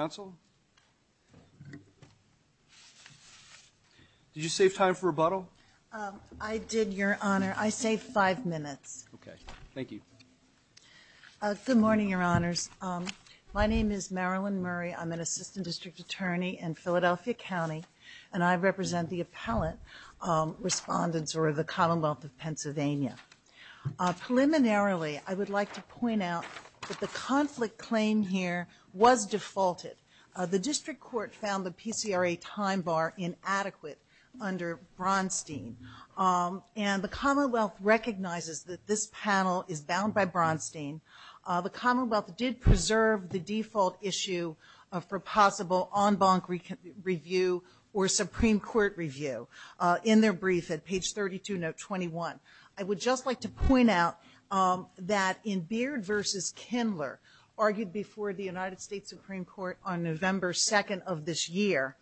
Did you save time for rebuttal? I did, Your Honor. I saved five minutes. Okay. Thank you. Good morning, Your Honors. My name is Marilyn Murray. I'm an assistant district attorney in Philadelphia County, and I represent the appellate respondents or the Commonwealth of Pennsylvania. Preliminarily, I would like to point out that the conflict claim here was defaulted. The district court found the PCRA time bar inadequate under Bronstein, and the Commonwealth recognizes that this panel is bound by Bronstein. The Commonwealth did preserve the default issue for possible en banc review or Supreme Court review in their brief at page 32, note 21. I would just like to point out that in Beard v. Kindler, argued before the United States Supreme Court on November 2nd of this year,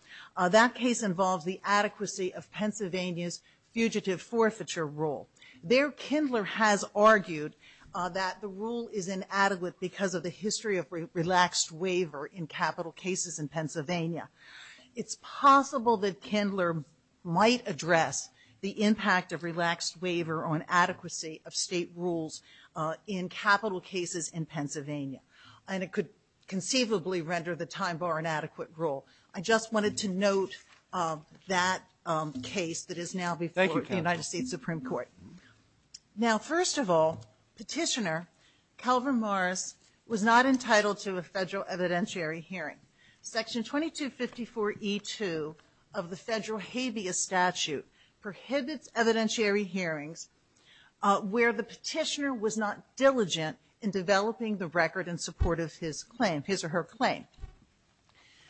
that case involves the adequacy of Pennsylvania's fugitive forfeiture rule. There Kindler has argued that the rule is inadequate because of the history of relaxed waiver in capital cases in Pennsylvania. It's possible that Kindler might address the impact of relaxed waiver on adequacy of state rules in capital cases in Pennsylvania, and it could conceivably render the time bar inadequate rule. I just wanted to note that case that is now before the United States Supreme Court. Now first of all, Petitioner Calvin Morris was not entitled to a federal evidentiary hearing. Section 2254E2 of the federal habeas statute prohibits evidentiary hearings where the petitioner was not diligent in developing the record in support of his claim, his or her claim.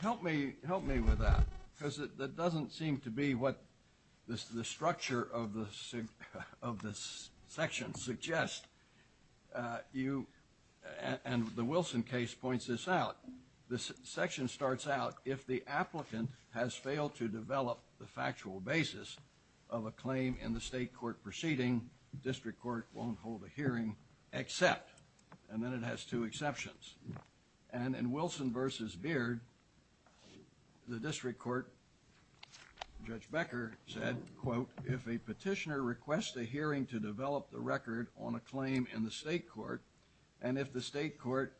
Help me with that, because that doesn't seem to be what the structure of the section suggests. You, and the Wilson case points this out, this section starts out, if the applicant has failed to develop the factual basis of a claim in the state court proceeding, district court won't hold a hearing except, and then it has two exceptions. And in Wilson v. Beard, the district court, Judge Becker said, quote, if a petitioner requests a hearing to develop the record on a claim in the state court, and if the state court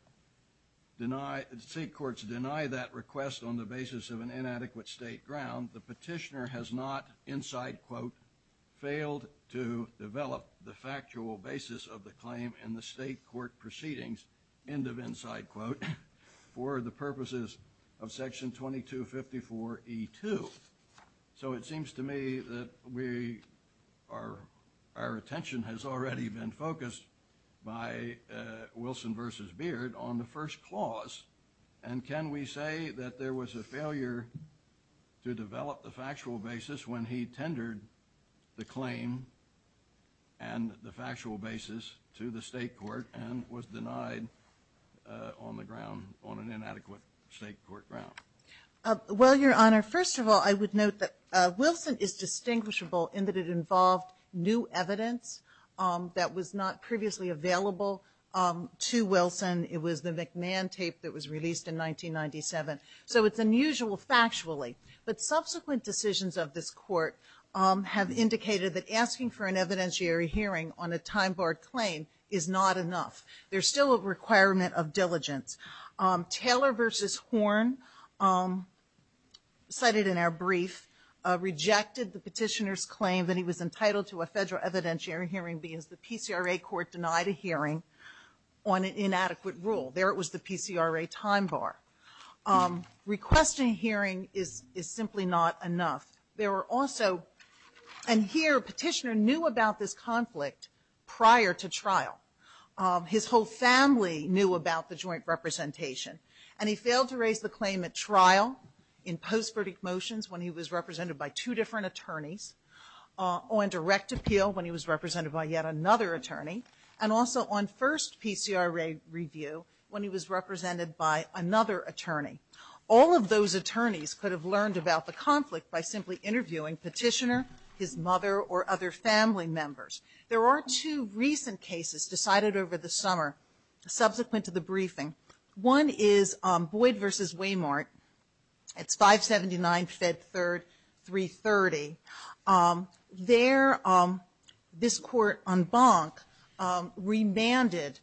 deny, state courts deny that request on the basis of an inadequate state ground, the petitioner has not, inside quote, failed to develop the factual basis of the claim in the state court proceedings, end of inside quote, for the purposes of section 2254E2. So it seems to me that we are, our attention has already been focused by Wilson v. Beard on the first clause, and can we say that there was a failure to develop the factual basis when he tendered the claim and the factual basis to the state court and was denied on the ground, on an inadequate state court ground? Well, Your Honor, first of all, I would note that Wilson is distinguishable in that it involved new evidence that was not previously available to Wilson. It was the McMahon tape that was released in 1997. So it's unusual factually, but subsequent decisions of this court have indicated that asking for an evidentiary hearing on a time-barred claim is not enough. There's still a requirement of diligence. Taylor v. Horn, cited in our brief, rejected the petitioner's claim that he was entitled to a federal evidentiary hearing because the PCRA court denied a hearing on an inadequate rule. There it was, the PCRA time-bar. Requesting hearing is simply not enough. There were also, and here, petitioner knew about this conflict prior to trial. His whole family knew about the joint representation, and he failed to raise the claim at trial in post-verdict motions when he was represented by two different attorneys, on direct appeal when he was represented by yet another attorney, and also on first PCRA review when he was represented by another attorney. All of those attorneys could have learned about the conflict by simply interviewing petitioner, his mother, or other family members. There are two recent cases decided over the summer, subsequent to the briefing. One is Boyd v. Weymart at 579 Fed 3, 330. There, this court en banc remanded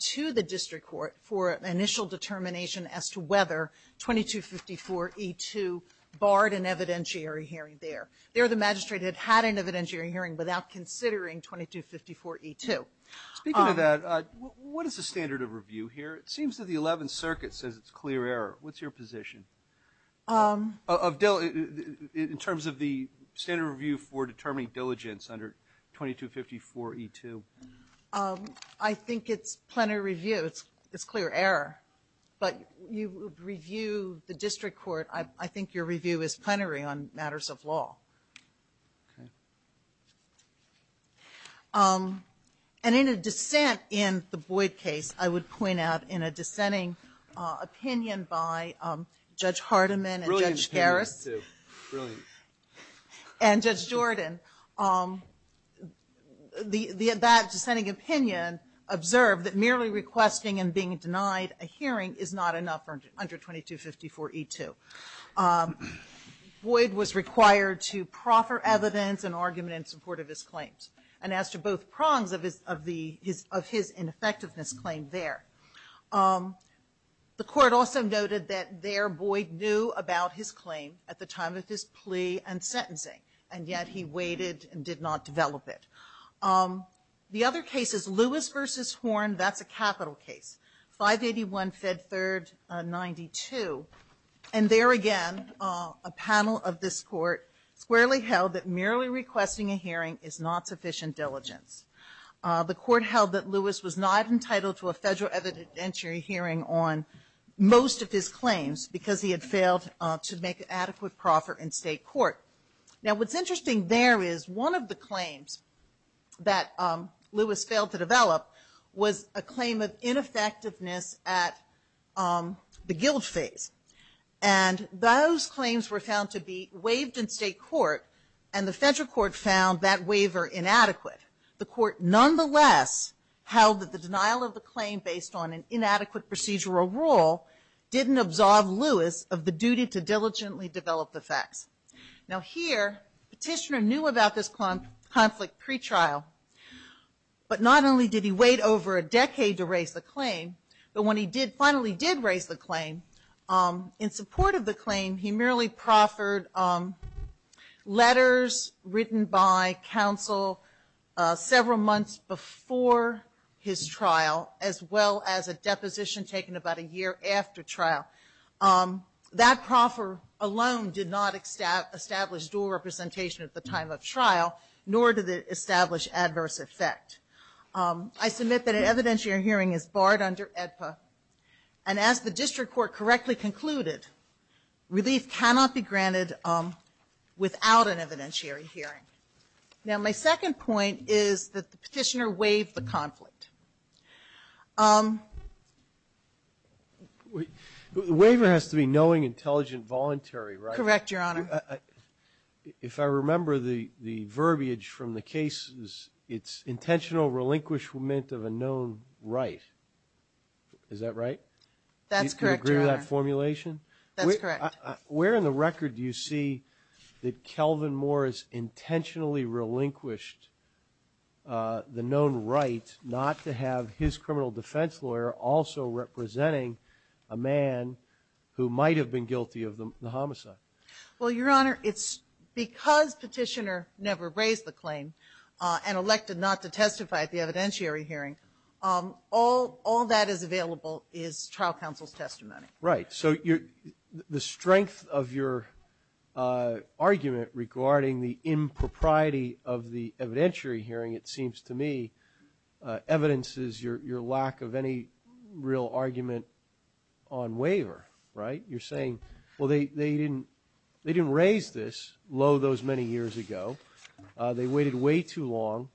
to the district court for an initial determination as to whether 2254E2 barred an evidentiary hearing there. There, the magistrate had had an evidentiary hearing without considering 2254E2. Speaking of that, what is the standard of review here? It seems that the 11th Circuit says it's clear error. What's your position? In terms of the standard review for determining diligence under 2254E2. I think it's plenary review. It's clear error, but you would review the district court. I think your review is plenary on matters of law. And in a dissent in the Boyd case, I would point out in a dissenting opinion by Judge Hardiman and Judge Garrett and Judge Jordan, that dissenting opinion observed that merely requesting and being denied a hearing is not enough under 2254E2. Boyd was required to proffer evidence and argument in support of his claims. And as to both prongs of his ineffectiveness claim there. The court also noted that there, Boyd knew about his claim at the time of his plea and sentencing, and yet he waited and did not develop it. The other case is Lewis v. Horn. That's a capital case, 581 Fed Third 92. And there again, a panel of this court squarely held that merely requesting a hearing is not sufficient diligence. The court held that Lewis was not entitled to a federal evidentiary hearing on most of his claims because he had failed to make an adequate proffer in state court. Now what's interesting there is one of the claims that Lewis failed to develop was a claim of ineffectiveness at the guilt phase. And those claims were found to be waived in state court, and the federal court found that waiver inadequate. The court nonetheless held that the denial of the claim based on an inadequate procedural rule didn't absolve Lewis of the duty to diligently develop the facts. Now here, Petitioner knew about this conflict pretrial, but not only did he wait over a decade to raise the claim, but when he finally did raise the claim, in support of the claim, he merely proffered letters written by counsel several months before his trial, as well as a deposition taken about a year after trial. That proffer alone did not establish dual representation at the time of trial, nor did it establish adverse effect. I submit that an evidentiary hearing is barred under AEDPA, and as the district court correctly concluded, release cannot be granted without an evidentiary hearing. Now my second point is that Petitioner waived the conflict. The waiver has to be knowing, intelligent, voluntary, right? Correct, Your Honor. If I remember the verbiage from the cases, it's intentional relinquishment of a known right. Is that right? That's correct, Your Honor. Do you agree with that formulation? That's correct. Where in the record do you see that Kelvin Moore has intentionally relinquished the right to have his criminal defense lawyer also representing a man who might have been guilty of the homicide? Well, Your Honor, it's because Petitioner never raised the claim and elected not to testify at the evidentiary hearing, all that is available is trial counsel's testimony. Right. So the strength of your argument regarding the impropriety of the evidentiary hearing, it seems to me, evidences your lack of any real argument on waiver, right? You're saying, well, they didn't raise this, lo, those many years ago. They waited way too long,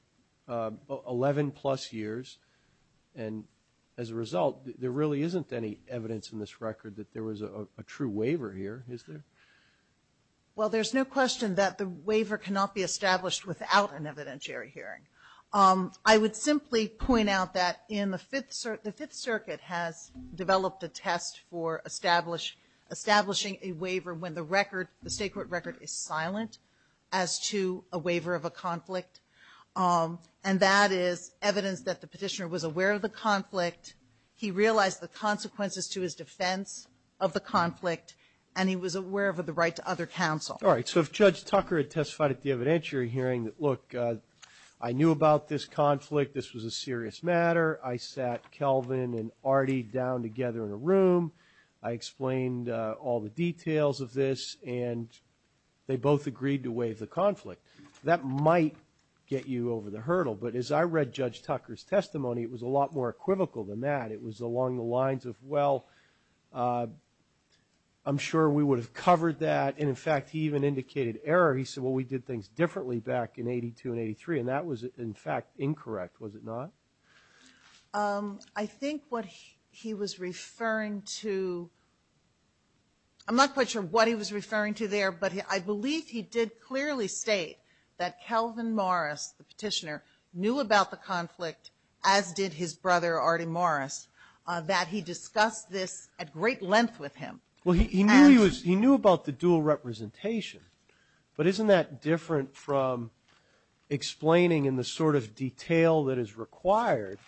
11 plus years, and as a result, there really isn't any evidence in this record that there was a true waiver here, is there? Well, there's no question that the waiver cannot be established without an evidentiary hearing. I would simply point out that the Fifth Circuit has developed a test for establishing a waiver when the state court record is silent as to a waiver of a conflict, and that is evidence that the Petitioner was aware of the conflict, he realized the consequences to his defense of the conflict, and he was aware of the right to other counsel. All right. So if Judge Tucker had testified at the evidentiary hearing that, look, I knew about this conflict, this was a serious matter, I sat Kelvin and Artie down together in a room, I explained all the details of this, and they both agreed to waive the conflict, that might get you over the hurdle. But as I read Judge Tucker's testimony, it was a lot more equivocal than that. It was along the lines of, well, I'm sure we would have covered that, and in fact, he even indicated error. He said, well, we did things differently back in 82 and 83, and that was, in fact, incorrect, was it not? I think what he was referring to, I'm not quite sure what he was referring to there, but I believe he did clearly state that Kelvin Morris, the Petitioner, knew about the conflict, as did his brother Artie Morris, that he discussed this at great length with him. Well, he knew about the dual representation, but isn't that different from explaining in the sort of detail that is required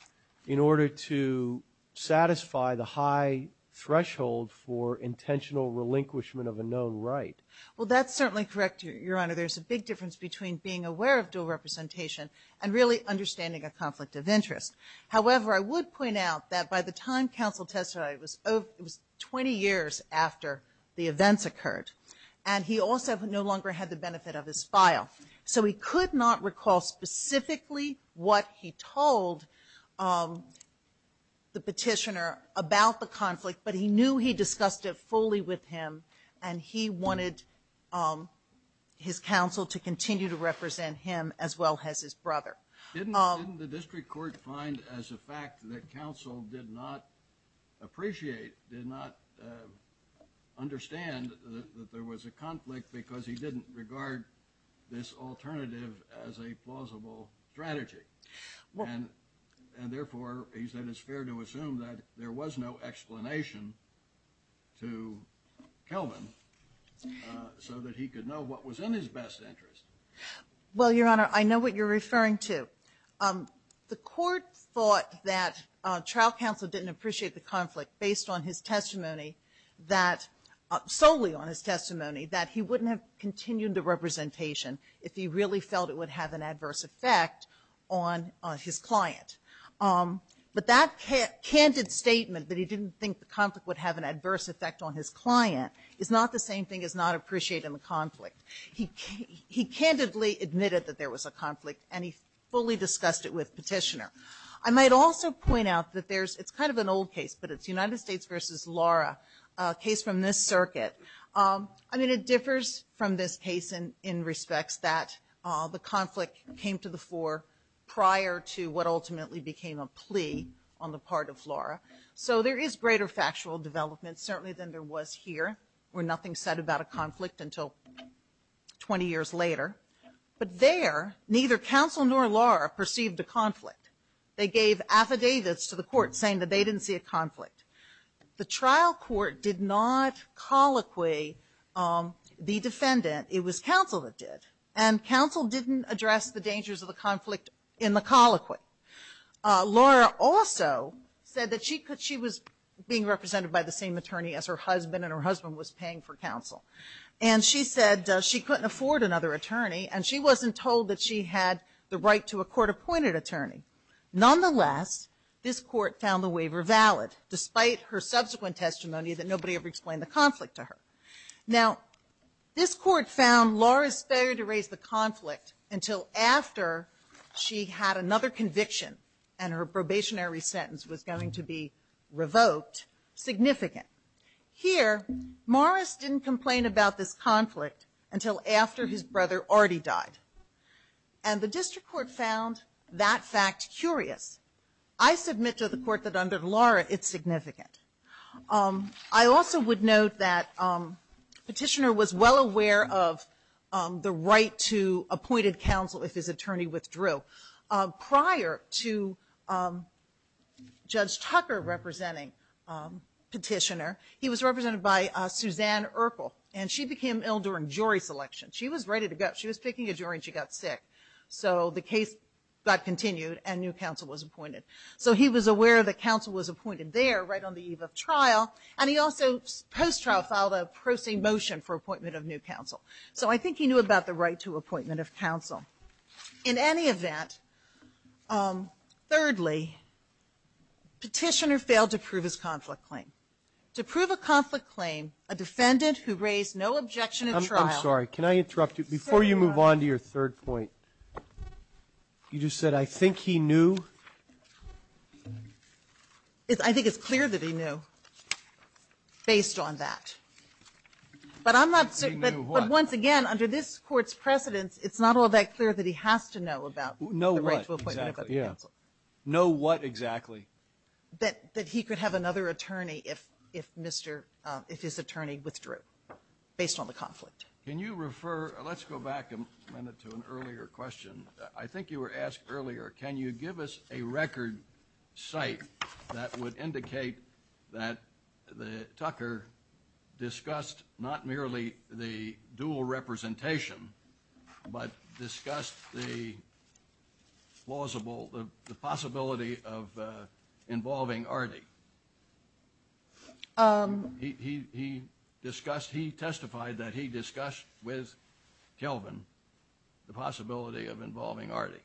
in order to satisfy the high threshold for intentional relinquishment of a known right? Well, that's certainly correct, Your Honor. There's a big difference between being aware of dual representation and really understanding a conflict of interest. However, I would point out that by the time counsel testified, it was 20 years after the events occurred, and he also no longer had the benefit of his file, so he could not recall specifically what he told the Petitioner about the conflict, but he knew he discussed it fully with him, and he wanted his counsel to continue to represent him as well as his brother. Didn't the district court find as a fact that counsel did not appreciate, did not understand that there was a conflict because he didn't regard this alternative as a plausible strategy? And therefore, he said it's fair to assume that there was no explanation to Kelvin so that he could know what was in his best interest. Well, Your Honor, I know what you're referring to. The court thought that trial counsel didn't appreciate the conflict based on his testimony, solely on his testimony, that he wouldn't have continued the representation if he really felt it would have an adverse effect on his client. But that candid statement that he didn't think the conflict would have an adverse effect on his client is not the same thing as not appreciating the conflict. He candidly admitted that there was a conflict, and he fully discussed it with Petitioner. I might also point out that there's – it's kind of an old case, but it's United States v. Laura, a case from this circuit. I mean, it differs from this case in respects that the conflict came to the fore prior to what ultimately became a plea on the part of Laura. So there is greater factual development, certainly, than there was here, where nothing's said about a conflict until 20 years later. But there, neither counsel nor Laura perceived a conflict. They gave affidavits to the court saying that they didn't see a conflict. The trial court did not colloquy the defendant. It was counsel that did. And counsel didn't address the dangers of the conflict in the colloquy. Laura also said that she was being represented by the same attorney as her husband, and her husband was paying for counsel. And she said she couldn't afford another attorney, and she wasn't told that she had the right to a court-appointed attorney. Nonetheless, this court found the waiver valid, despite her subsequent testimony that nobody ever explained the conflict to her. Now, this court found Laura's failure to raise the conflict until after she had another conviction and her probationary sentence was going to be revoked significant. Here, Morris didn't complain about this conflict until after his brother already died. And the district court found that fact curious. I submit to the court that under Laura, it's significant. I also would note that Petitioner was well aware of the right to appointed counsel if his attorney withdrew. Prior to Judge Tucker representing Petitioner, he was represented by Suzanne Urkel, and she became ill during jury selection. She was ready to go. She was taking a jury, and she got sick. So the case got continued and new counsel was appointed. So he was aware that counsel was appointed there right on the eve of trial, and he also post-trial filed a pro se motion for appointment of new counsel. So I think he knew about the right to appointment of counsel. In any event, thirdly, Petitioner failed to prove his conflict claim. To prove a conflict claim, a defendant who raised no objection in trial – I'm sorry. Can I interrupt you? Before you move on to your third point, you just said, I think he knew. I think it's clear that he knew based on that. But once again, under this court's precedence, it's not all that clear that he has to know about the right to appoint counsel. Know what exactly? That he could have another attorney if his attorney withdrew based on the conflict. Can you refer – let's go back a minute to an earlier question. I think you were asked earlier, can you give us a record site that would indicate that Tucker discussed not merely the dual representation, but discussed the possibility of involving Ardy? He testified that he discussed with Kelvin the possibility of involving Ardy.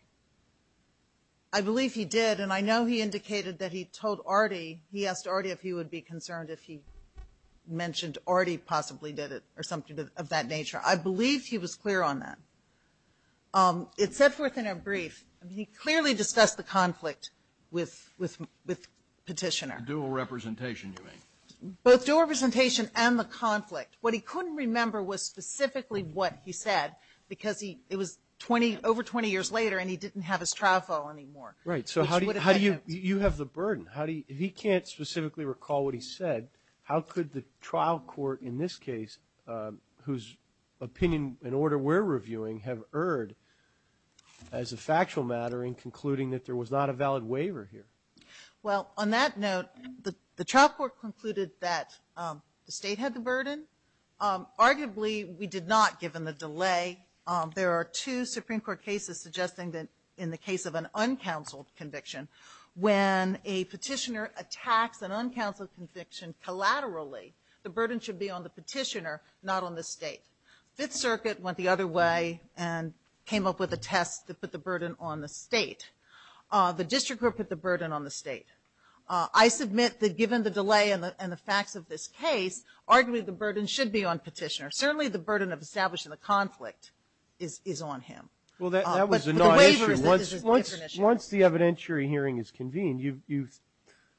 I believe he did, and I know he indicated that he told Ardy – he asked Ardy if he would be concerned if he mentioned Ardy possibly did it or something of that nature. I believe he was clear on that. It sets forth in a brief, he clearly discussed the conflict with Petitioner. Dual representation, you mean? Both dual representation and the conflict. What he couldn't remember was specifically what he said, because it was over 20 years later and he didn't have his trial file anymore. Right. So how do you – you have the burden. If he can't specifically recall what he said, how could the trial court in this case, whose opinion and order we're reviewing, have erred as a factual matter in concluding that there was not a valid waiver here? Well, on that note, the trial court concluded that the state had the burden. Arguably, we did not, given the delay. There are two Supreme Court cases suggesting that in the case of an uncounseled conviction, when a petitioner attacks an uncounseled conviction collaterally, the burden should be on the petitioner, not on the state. Fifth Circuit went the other way and came up with a test to put the burden on the state. The district court put the burden on the state. I submit that given the delay and the fact of this case, arguably the burden should be on petitioner. Certainly the burden of establishing a conflict is on him. Well, that was a non-entry. Once the evidentiary hearing is convened, you,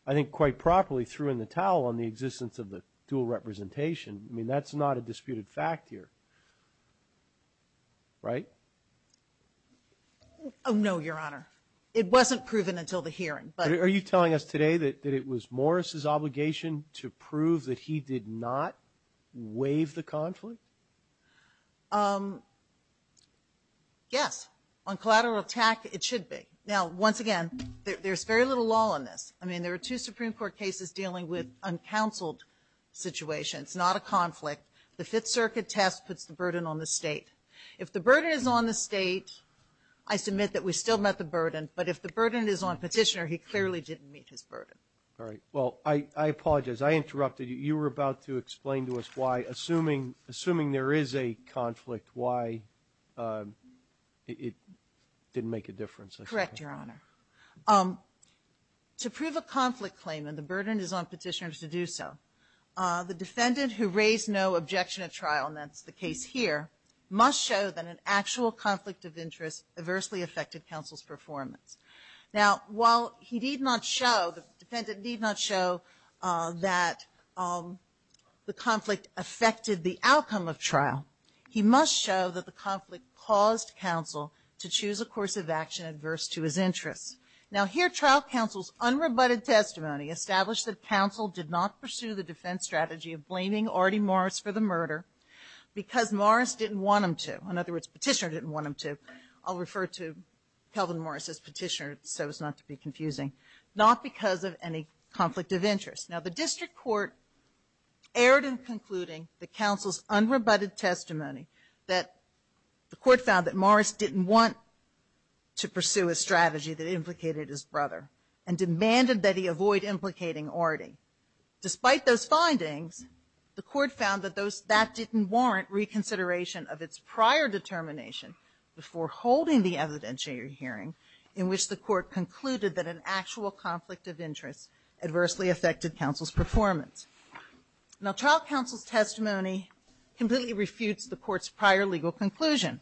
I think quite properly, threw in the towel on the existence of the dual representation. I mean, that's not a disputed fact here. Right? Oh, no, Your Honor. It wasn't proven until the hearing. Are you telling us today that it was Morris' obligation to prove that he did not waive the conflict? Yes. On collateral attack, it should be. Now, once again, there's very little law on this. I mean, there are two Supreme Court cases dealing with uncounseled situations, not a conflict. The Fifth Circuit test puts the burden on the state. If the burden is on the state, I submit that we still met the burden. But if the burden is on petitioner, he clearly didn't meet his burden. All right. Well, I apologize. I interrupted. You were about to explain to us why, assuming there is a conflict, why it didn't make a difference. Correct, Your Honor. To prove a conflict claim and the burden is on petitioners to do so, the defendant who raised no objection at trial, and that's the case here, must show that an actual conflict of interest adversely affected counsel's performance. Now, while he did not show, the defendant did not show that the conflict affected the outcome of trial, he must show that the conflict caused counsel to choose a course of action adverse to his interest. Now, here trial counsel's unrebutted testimony established that counsel did not pursue the defense strategy of blaming Artie Morris for the murder because Morris didn't want him to. In other words, petitioner didn't want him to. I'll refer to Kelvin Morris as petitioner so as not to be confusing. Not because of any conflict of interest. Now, the district court erred in concluding that counsel's unrebutted testimony, that the court found that Morris didn't want to pursue a strategy that implicated his brother and demanded that he avoid implicating Artie. Despite those findings, the court found that that didn't warrant reconsideration of its prior determination before holding the evidentiary hearing in which the court concluded that an actual conflict of interest adversely affected counsel's performance. Now, trial counsel's testimony completely refutes the court's prior legal conclusion.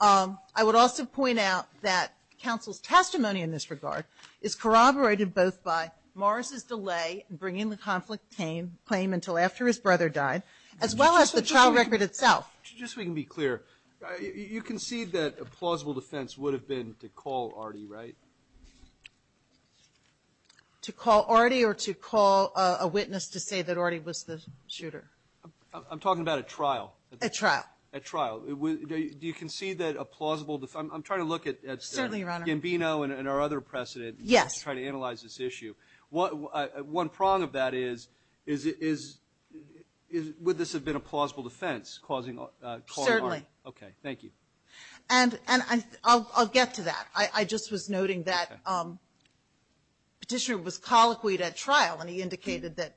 I would also point out that counsel's testimony in this regard is corroborated both by Morris' delay in bringing the conflict claim until after his brother died as well as the trial record itself. Just so we can be clear, you concede that a plausible defense would have been to call Artie, right? To call Artie or to call a witness to say that Artie was the shooter? I'm talking about a trial. A trial. A trial. Do you concede that a plausible defense – I'm trying to look at – Certainly, Your Honor. Gambino and our other precedent. Yes. I'm trying to analyze this issue. One prong of that is would this have been a plausible defense causing – Certainly. Okay. Thank you. And I'll get to that. I just was noting that Petitioner was colloquy at trial, and he indicated that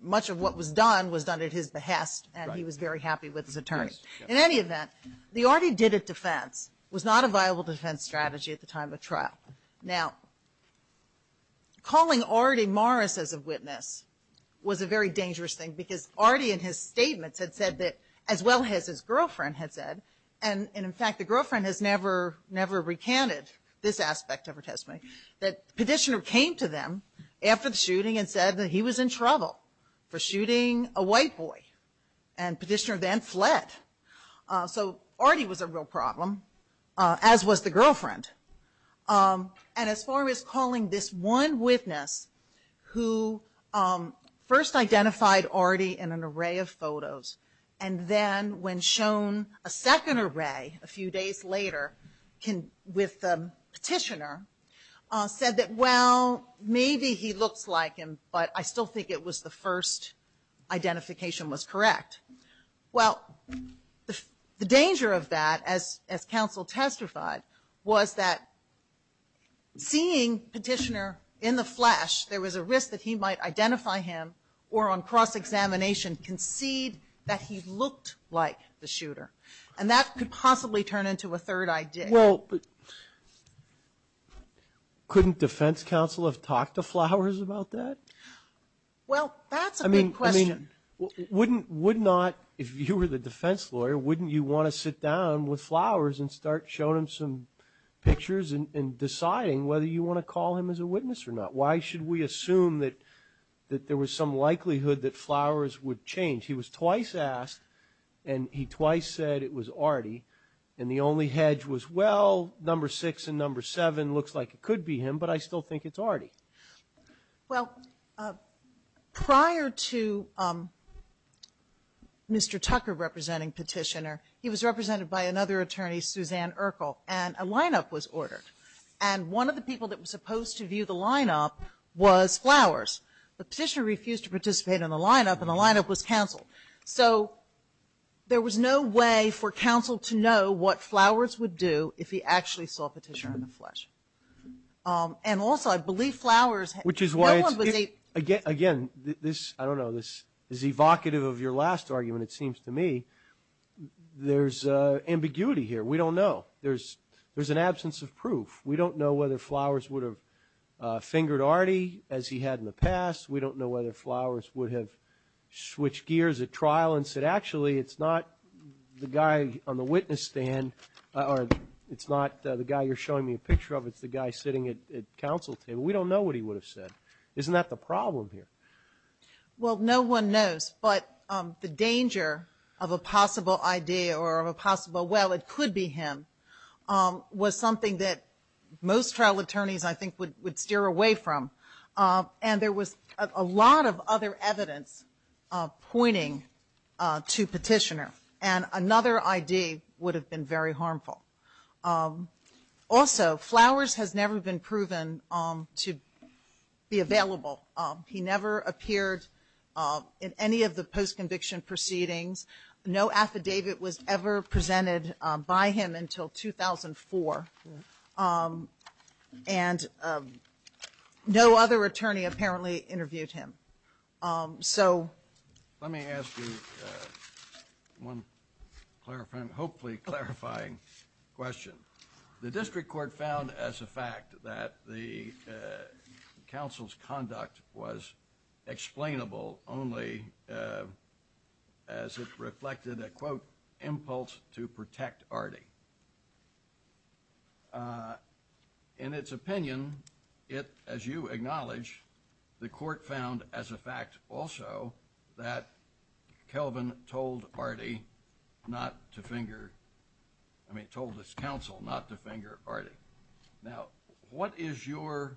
much of what was done was done at his behest, and he was very happy with his attorney. In any event, the Artie did it defense. It was not a viable defense strategy at the time of trial. Now, calling Artie Morris as a witness was a very dangerous thing, because Artie in his statements had said that, as well as his girlfriend had said, and, in fact, the girlfriend has never recanted this aspect of her testimony, that Petitioner came to them after the shooting and said that he was in trouble for shooting a white boy, and Petitioner then fled. So Artie was a real problem, as was the girlfriend. And as far as calling this one witness who first identified Artie in an array of photos and then when shown a second array a few days later with Petitioner said that, well, maybe he looked like him, but I still think it was the first identification was correct. Well, the danger of that, as counsel testified, was that seeing Petitioner in the flash, there was a risk that he might identify him or on cross-examination concede that he looked like the shooter. And that could possibly turn into a third idea. Well, couldn't defense counsel have talked to Flowers about that? Well, that's a good question. Would not, if you were the defense lawyer, wouldn't you want to sit down with Flowers and start showing him some pictures and deciding whether you want to call him as a witness or not? Why should we assume that there was some likelihood that Flowers would change? He was twice asked, and he twice said it was Artie, and the only hedge was, well, number six and number seven looks like it could be him, but I still think it's Artie. Well, prior to Mr. Tucker representing Petitioner, he was represented by another attorney, Suzanne Urkel, and a line-up was ordered. And one of the people that was supposed to view the line-up was Flowers. But Petitioner refused to participate in the line-up, and the line-up was counsel. So there was no way for counsel to know what Flowers would do if he actually saw Petitioner in the flash. And also, I believe Flowers – Which is why, again, I don't know, this is evocative of your last argument, it seems to me. There's ambiguity here. We don't know. There's an absence of proof. We don't know whether Flowers would have fingered Artie as he had in the past. We don't know whether Flowers would have switched gears at trial and said, Actually, it's not the guy on the witness stand, or it's not the guy you're showing me a picture of. It's the guy sitting at counsel's table. We don't know what he would have said. Isn't that the problem here? Well, no one knows. But the danger of a possible idea or of a possible, well, it could be him, was something that most trial attorneys, I think, would steer away from. And there was a lot of other evidence pointing to Petitioner, and another idea would have been very harmful. Also, Flowers has never been proven to be available. He never appeared in any of the post-conviction proceedings. No affidavit was ever presented by him until 2004. And no other attorney apparently interviewed him. Let me ask you one hopefully clarifying question. The district court found as a fact that the counsel's conduct was explainable only as it reflected an, quote, impulse to protect Artie. In its opinion, it, as you acknowledge, the court found as a fact also that Kelvin told Artie not to finger, I mean, told his counsel not to finger Artie. Now, what is your,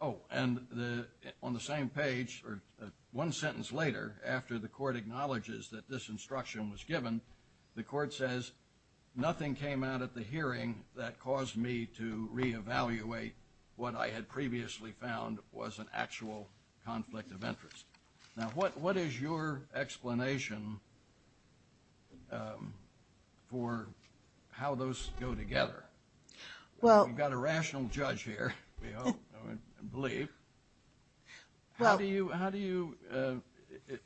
oh, and on the same page, or one sentence later, after the court acknowledges that this instruction was given, the court says nothing came out of the hearing that caused me to re-evaluate what I had previously found was an actual conflict of interest. Now, what is your explanation for how those go together? We've got a rational judge here, I believe. How do you,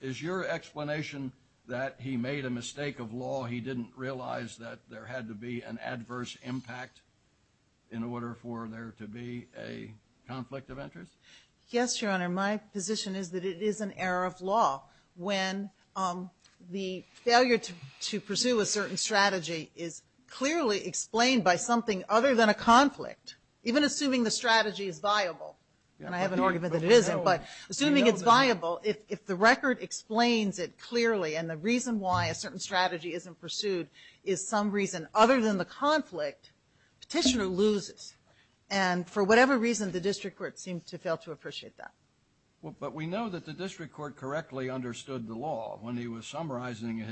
is your explanation that he made a mistake of law, he didn't realize that there had to be an adverse impact in order for there to be a conflict of interest? Yes, Your Honor, my position is that it is an error of law when the failure to pursue a certain strategy is clearly explained by something other than a conflict, even assuming the strategy is viable. And I have an argument that it isn't, but assuming it's viable, if the record explains it clearly and the reason why a certain strategy isn't pursued is some reason other than the conflict, petitioner loses. And for whatever reason, the district court seems to fail to appreciate that. But we know that the district court correctly understood the law when he was summarizing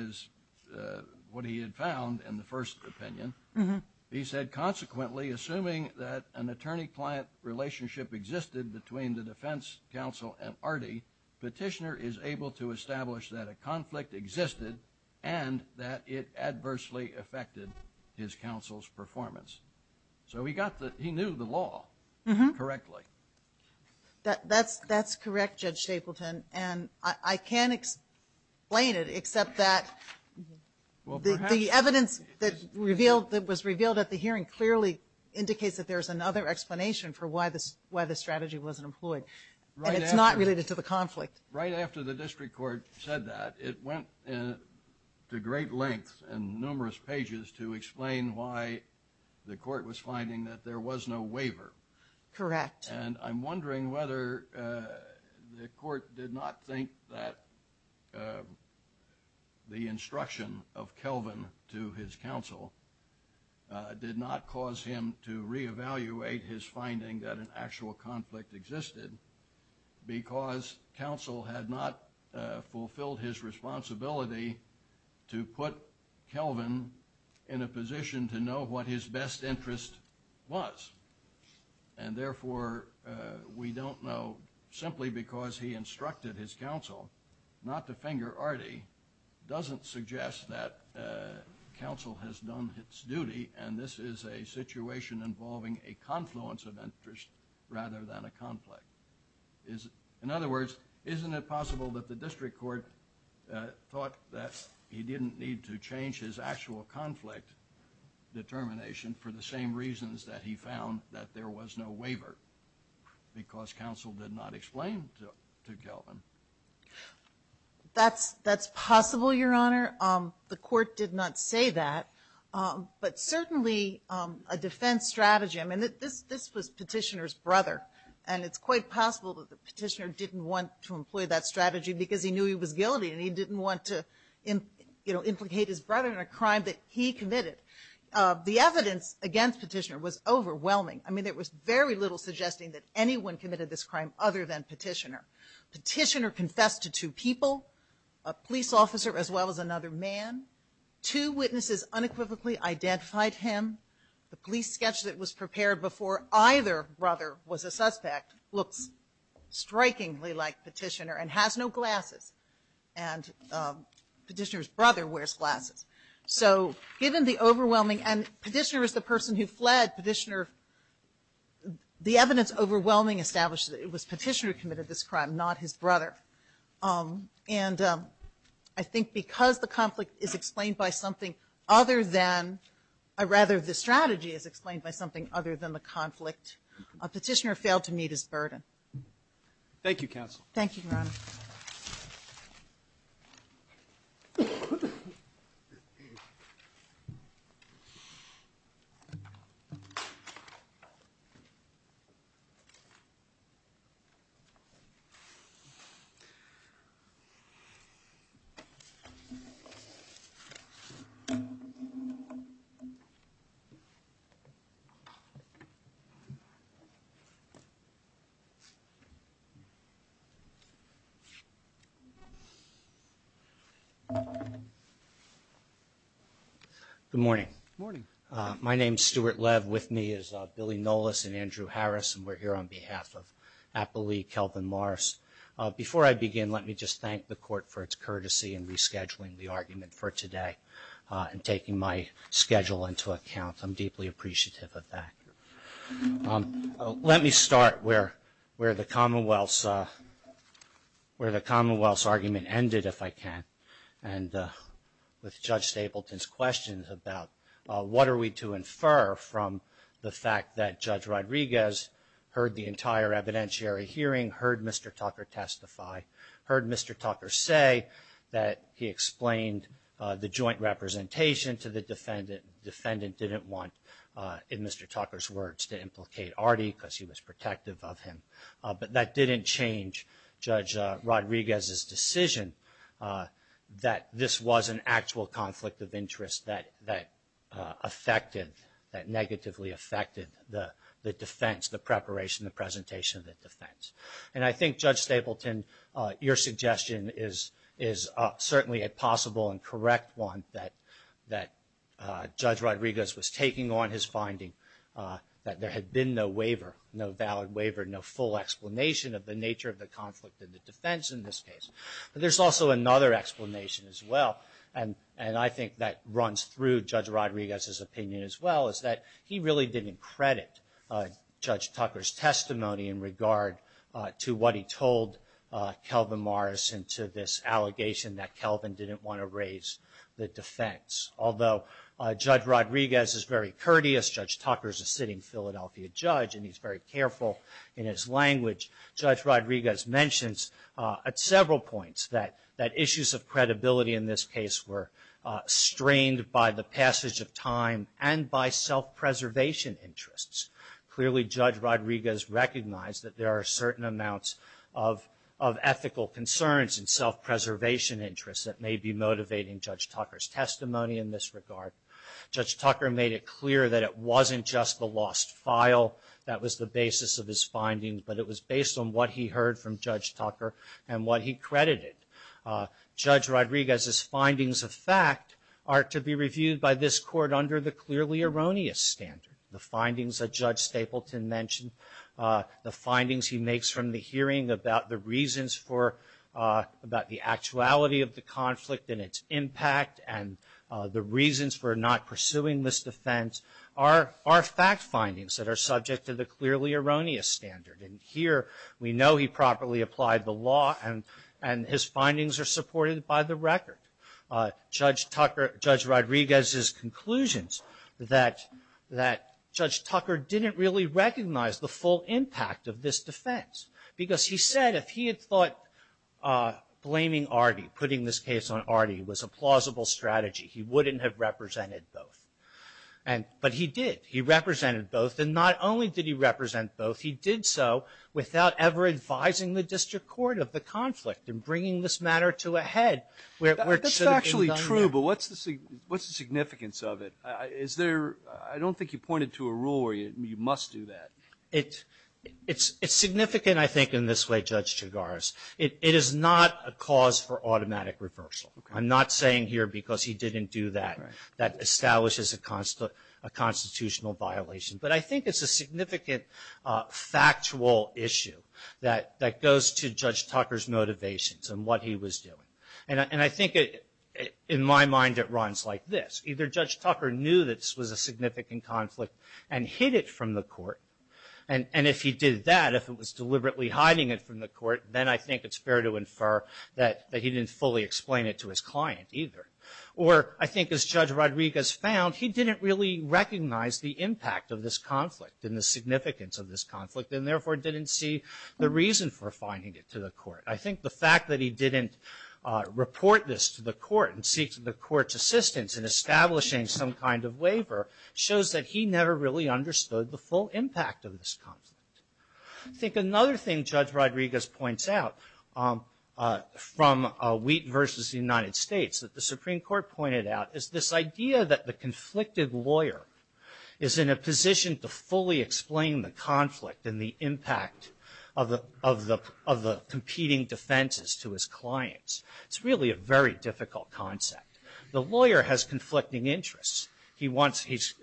what he had found in the first opinion. He said, consequently, assuming that an attorney-client relationship existed between the defense counsel and Artie, petitioner is able to establish that a conflict existed and that it adversely affected his counsel's performance. So he knew the law correctly. That's correct, Judge Chapleton, and I can explain it, except that the evidence that was revealed at the hearing clearly indicates that there's another explanation for why the strategy wasn't employed, and it's not related to the conflict. Right after the district court said that, it went to great lengths and numerous pages to explain why the court was finding that there was no waiver. Correct. And I'm wondering whether the court did not think that the instruction of Kelvin to his counsel did not cause him to reevaluate his finding that an actual conflict existed because counsel had not fulfilled his responsibility to put Kelvin in a position to know what his best interest was and therefore we don't know, simply because he instructed his counsel, not to finger Artie, doesn't suggest that counsel has done its duty and this is a situation involving a confluence of interests rather than a conflict. In other words, isn't it possible that the district court thought that he didn't need to change his actual conflict determination for the same reasons that he found that there was no waiver because counsel did not explain to Kelvin? That's possible, Your Honor. The court did not say that. But certainly a defense strategy, I mean, this was Petitioner's brother, and it's quite possible that Petitioner didn't want to employ that strategy because he knew he was guilty and he didn't want to, you know, implicate his brother in a crime that he committed. The evidence against Petitioner was overwhelming. I mean, there was very little suggesting that anyone committed this crime other than Petitioner. Petitioner confessed to two people, a police officer as well as another man. Two witnesses unequivocally identified him. The police sketch that was prepared before either brother was a suspect looks strikingly like Petitioner and has no glasses and Petitioner's brother wears glasses. So given the overwhelming, and Petitioner was the person who fled, Petitioner, the evidence overwhelming established that it was Petitioner who committed this crime, not his brother. And I think because the conflict is explained by something other than, or rather the strategy is explained by something other than the conflict, Petitioner failed to meet his burden. Thank you, counsel. Thank you, Your Honor. Thank you. Good morning. Good morning. My name is Stuart Lev. With me is Billy Nolas and Andrew Harris, and we're here on behalf of Appalachian Kelvin Morris. Before I begin, let me just thank the court for its courtesy in rescheduling the argument for today and taking my schedule into account. I'm deeply appreciative of that. Let me start where the Commonwealth's argument ended, if I can, and with Judge Stapleton's questions about what are we to infer from the fact that Judge Rodriguez heard the entire evidentiary hearing, heard Mr. Tucker testify, heard Mr. Tucker say that he explained the joint representation to the defendant. The defendant didn't want, in Mr. Tucker's words, to implicate Artie because he was protective of him. But that didn't change Judge Rodriguez's decision that this was an actual conflict of interest that affected, that negatively affected the defense, the preparation, the presentation of the defense. And I think, Judge Stapleton, your suggestion is certainly a possible and correct one that Judge Rodriguez was taking on his finding that there had been no waiver, no valid waiver, no full explanation of the nature of the conflict of the defense in this case. But there's also another explanation as well, and I think that runs through Judge Rodriguez's opinion as well, is that he really didn't credit Judge Tucker's testimony in regard to what he told Kelvin Morris and to this allegation that Kelvin didn't want to raise the defense. Although Judge Rodriguez is very courteous, Judge Tucker is a sitting Philadelphia judge and he's very careful in his language, Judge Rodriguez mentions at several points that issues of credibility in this case were strained by the passage of time and by self-preservation interests. Clearly, Judge Rodriguez recognized that there are certain amounts of ethical concerns and self-preservation interests that may be motivating Judge Tucker's testimony in this regard. Judge Tucker made it clear that it wasn't just the lost file that was the basis of this finding, but it was based on what he heard from Judge Tucker and what he credited. Judge Rodriguez's findings of fact are to be reviewed by this court under the clearly erroneous standard. The findings that Judge Stapleton mentioned, the findings he makes from the hearing about the reasons for, about the actuality of the conflict and its impact and the reasons for not pursuing this defense are fact findings that are subject to the clearly erroneous standard. And here, we know he properly applied the law and his findings are supported by the record. Judge Rodriguez's conclusions that Judge Tucker didn't really recognize the full impact of this defense because he said if he had thought blaming Artie, putting this case on Artie, was a plausible strategy, he wouldn't have represented both. But he did. He represented both, and not only did he represent both, he did so without ever advising the district court of the conflict in bringing this matter to a head. This is actually true, but what's the significance of it? Is there, I don't think you pointed to a rule where you must do that. It's significant, I think, in this way, Judge Chigaris. It is not a cause for automatic reversal. I'm not saying here because he didn't do that that establishes a constitutional violation, but I think it's a significant factual issue that goes to Judge Tucker's motivations and what he was doing. And I think, in my mind, it runs like this. Either Judge Tucker knew this was a significant conflict and hid it from the court, and if he did that, if he was deliberately hiding it from the court, then I think it's fair to infer that he didn't fully explain it to his client either. Or I think, as Judge Rodriguez found, he didn't really recognize the impact of this conflict and the significance of this conflict, and therefore didn't see the reason for finding it to the court. I think the fact that he didn't report this to the court and seek the court's assistance in establishing some kind of waiver shows that he never really understood the full impact of this conflict. I think another thing Judge Rodriguez points out from Wheaton v. the United States, that the Supreme Court pointed out, is this idea that the conflicted lawyer is in a position to fully explain the conflict and the impact of the competing defenses to his clients. It's really a very difficult concept. The lawyer has conflicting interests. He's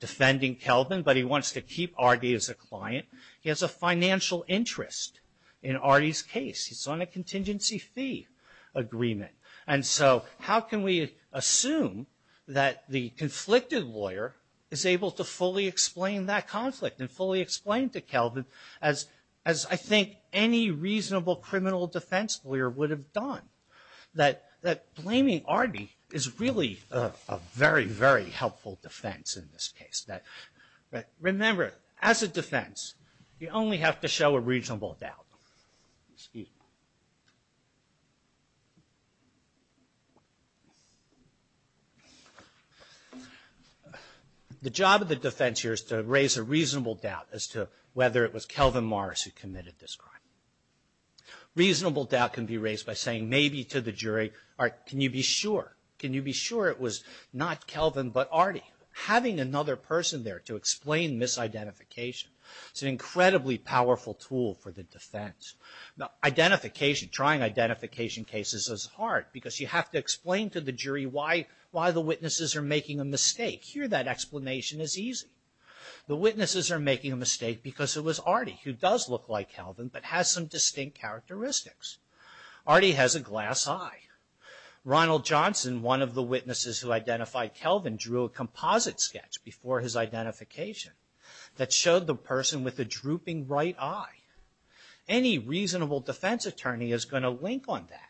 defending Kelvin, but he wants to keep Ardy as a client. He has a financial interest in Ardy's case. He's on a contingency fee agreement. And so how can we assume that the conflicted lawyer is able to fully explain that conflict and fully explain to Kelvin, as I think any reasonable criminal defense lawyer would have done, that blaming Ardy is really a very, very helpful defense in this case. Remember, as a defense, you only have to show a reasonable doubt. Steve. The job of the defense here is to raise a reasonable doubt as to whether it was Kelvin Morris who committed this crime. A reasonable doubt can be raised by saying maybe to the jury, can you be sure, can you be sure it was not Kelvin but Ardy. Having another person there to explain misidentification is an incredibly powerful tool for the defense. Identification, trying identification cases is hard because you have to explain to the jury why the witnesses are making a mistake. Here that explanation is easy. The witnesses are making a mistake because it was Ardy who does look like Kelvin but has some distinct characteristics. Ardy has a glass eye. Ronald Johnson, one of the witnesses who identified Kelvin, drew a composite sketch before his identification that showed the person with the drooping right eye. Any reasonable defense attorney is going to link on that.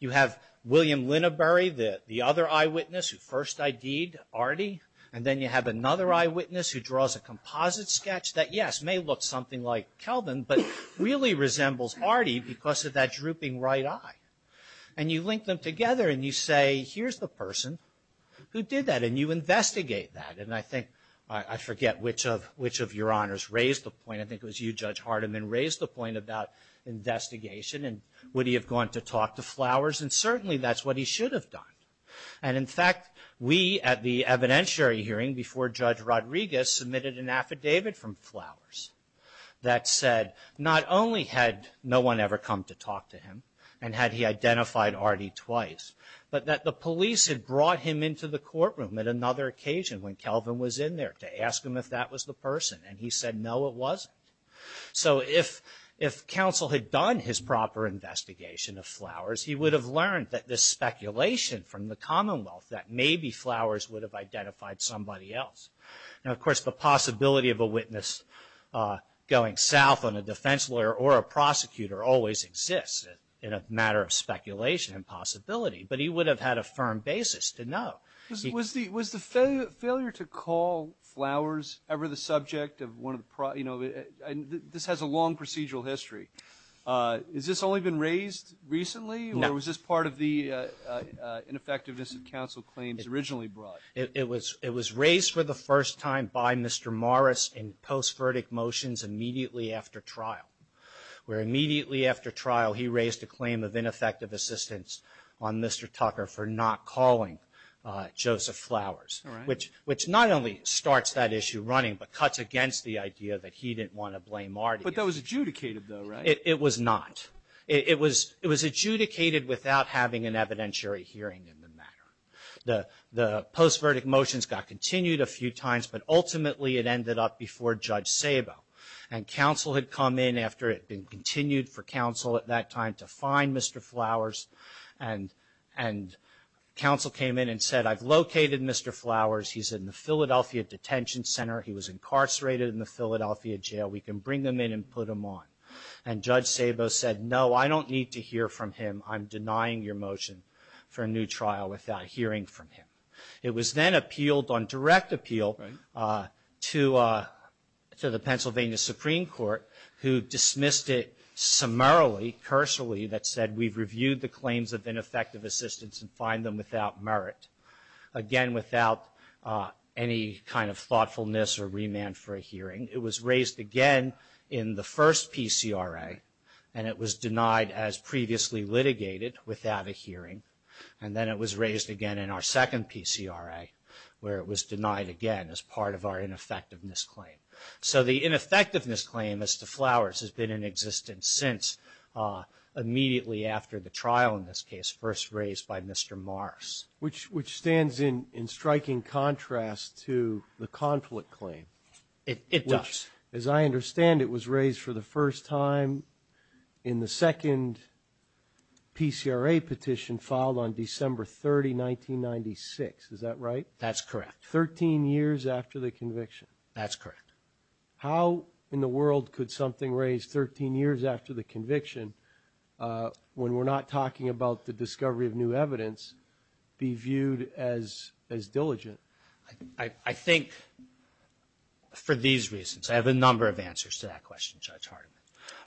You have William Lineberry, the other eyewitness who first ID'd Ardy, and then you have another eyewitness who draws a composite sketch that, yes, may look something like Kelvin, but really resembles Ardy because of that drooping right eye. And you link them together and you say, here's the person who did that, and you investigate that. And I think, I forget which of your honors raised the point. I think it was you, Judge Hardiman, raised the point about investigation and would he have gone to talk to Flowers, and certainly that's what he should have done. And, in fact, we at the evidentiary hearing before Judge Rodriguez submitted an affidavit from Flowers that said not only had no one ever come to talk to him and had he identified Ardy twice, but that the police had brought him into the courtroom at another occasion when Kelvin was in there to ask him if that was the person. And he said, no, it wasn't. So if counsel had done his proper investigation of Flowers, he would have learned that this speculation from the Commonwealth that maybe Flowers would have identified somebody else. And, of course, the possibility of a witness going south on a defense lawyer or a prosecutor always exists. It's a matter of speculation and possibility. But he would have had a firm basis to know. Was the failure to call Flowers ever the subject of one of the problems? This has a long procedural history. Has this only been raised recently, or was this part of the ineffectiveness that counsel claims originally brought? It was raised for the first time by Mr. Morris in post-verdict motions immediately after trial, where immediately after trial he raised a claim of ineffective assistance on Mr. Tucker for not calling Joseph Flowers, which not only starts that issue running, but cuts against the idea that he didn't want to blame Ardy. But that was adjudicated, though, right? It was not. It was adjudicated without having an evidentiary hearing in the matter. The post-verdict motions got continued a few times, but ultimately it ended up before Judge Sabo. And counsel had come in after it had been continued for counsel at that time to find Mr. Flowers, and counsel came in and said, I've located Mr. Flowers. He's in the Philadelphia Detention Center. He was incarcerated in the Philadelphia jail. We can bring him in and put him on. And Judge Sabo said, no, I don't need to hear from him. I'm denying your motion for a new trial without hearing from him. It was then appealed on direct appeal to the Pennsylvania Supreme Court, who dismissed it summarily, personally, that said we've reviewed the claims of ineffective assistance and find them without merit. Again, without any kind of thoughtfulness or remand for a hearing. It was raised again in the first PCRA, and it was denied as previously litigated without a hearing. And then it was raised again in our second PCRA, where it was denied again as part of our ineffectiveness claim. So the ineffectiveness claim as to Flowers has been in existence since immediately after the trial in this case, first raised by Mr. Morris. Which stands in striking contrast to the conflict claim. It does. As I understand it was raised for the first time in the second PCRA petition filed on December 30, 1996. Is that right? That's correct. Thirteen years after the conviction. That's correct. How in the world could something raised 13 years after the conviction, when we're not talking about the discovery of new evidence, be viewed as diligent? I think for these reasons. I have a number of answers to that question, Judge Hartman.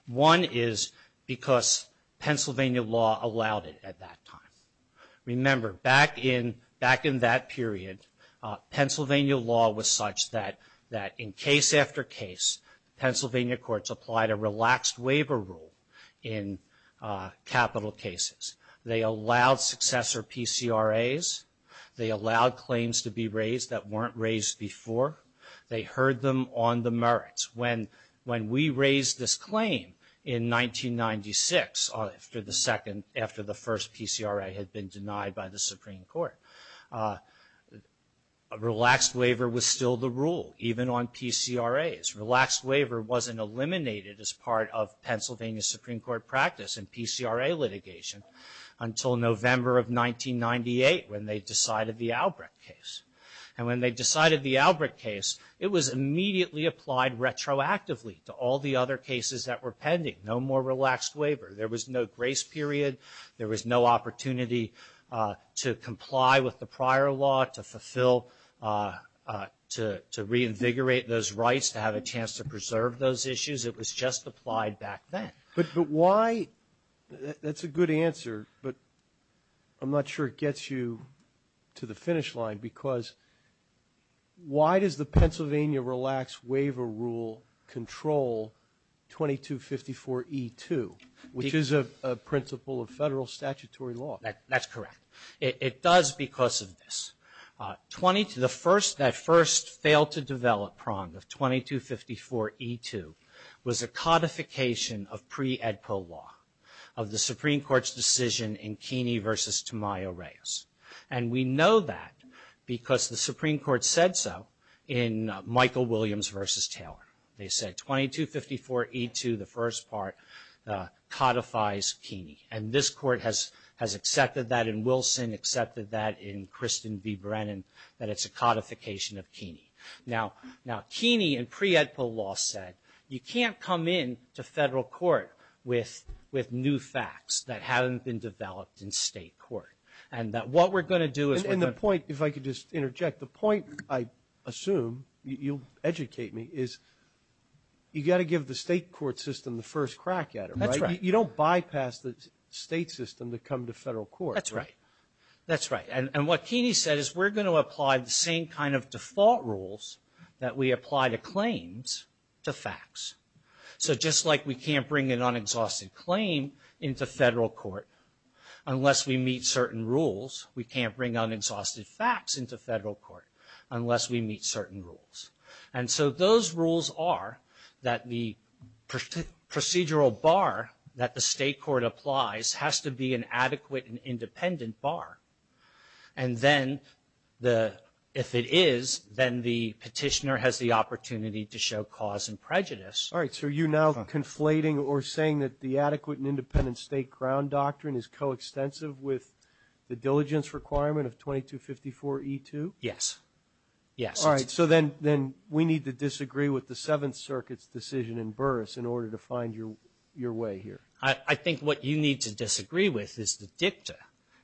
One is because Pennsylvania law allowed it at that time. Remember, back in that period, Pennsylvania law was such that in case after case, Pennsylvania courts applied a relaxed waiver rule in capital cases. They allowed successor PCRAs. They allowed claims to be raised that weren't raised before. They heard them on the merits. When we raised this claim in 1996, after the first PCRA had been denied by the Supreme Court, a relaxed waiver was still the rule, even on PCRAs. Relaxed waiver wasn't eliminated as part of Pennsylvania Supreme Court practice and PCRA litigation until November of 1998 when they decided the Albrecht case. When they decided the Albrecht case, it was immediately applied retroactively to all the other cases that were pending. No more relaxed waiver. There was no grace period. There was no opportunity to comply with the prior law, to fulfill, to reinvigorate those rights, to have a chance to preserve those issues. It was just applied back then. But why? That's a good answer, but I'm not sure it gets you to the finish line because why does the Pennsylvania relaxed waiver rule control 2254E2, which is a principle of federal statutory law? That's correct. It does because of this. The first that failed to develop PROM, the 2254E2, was a codification of pre-EDPA law, of the Supreme Court's decision in Keeney v. Tamayo-Reyes. And we know that because the Supreme Court said so in Michael Williams v. Taylor. They said 2254E2, the first part, codifies Keeney. And this court has accepted that, and Wilson accepted that, and Kristen B. Brennan, that it's a codification of Keeney. Now, Keeney and pre-EDPA law said, you can't come into federal court with new facts that haven't been developed in state court. And what we're going to do is we're going to – And the point, if I could just interject, the point, I assume, you educate me, is you've got to give the state court system the first crack at it, right? That's right. You don't bypass the state system to come to federal court, right? That's right. That's right. And what Keeney said is we're going to apply the same kind of default rules that we apply to claims to facts. So just like we can't bring an unexhausted claim into federal court unless we meet certain rules, we can't bring unexhausted facts into federal court unless we meet certain rules. And so those rules are that the procedural bar that the state court applies has to be an adequate and independent bar. And then if it is, then the petitioner has the opportunity to show cause and prejudice. All right. So are you now conflating or saying that the adequate and independent state ground doctrine is coextensive with the diligence requirement of 2254E2? Yes. Yes. All right. So then we need to disagree with the Seventh Circuit's decision in Burris in order to find your way here. I think what you need to disagree with is the dicta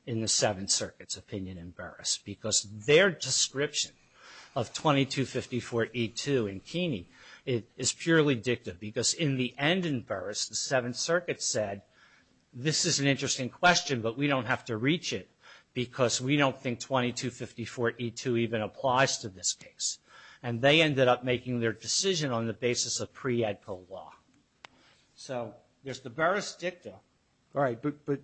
in the Seventh Circuit's opinion in Burris because their description of 2254E2 in Keeney is purely dicta because in the end in Burris, the Seventh Circuit said this is an interesting question but we don't have to reach it because we don't think 2254E2 even applies to this case. And they ended up making their decision on the basis of pre-EDCO law. So there's the Burris dicta. All right. But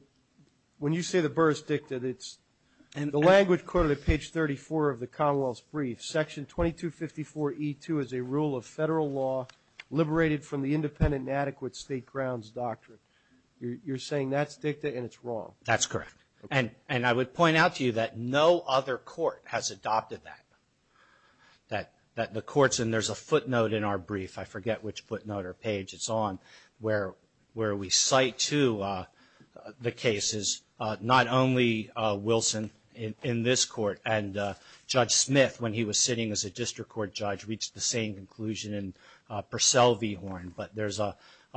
when you say the Burris dicta, the language quoted at page 34 of the Commonwealth's brief, section 2254E2 is a rule of federal law liberated from the independent and adequate state grounds doctrine. You're saying that's dicta and it's wrong. That's correct. And I would point out to you that no other court has adopted that, that the courts and there's a footnote in our brief. I forget which footnote or page it's on where we cite to the cases not only Wilson in this court and Judge Smith when he was sitting as a district court judge reached the same conclusion in Purcell v. Horn but there's a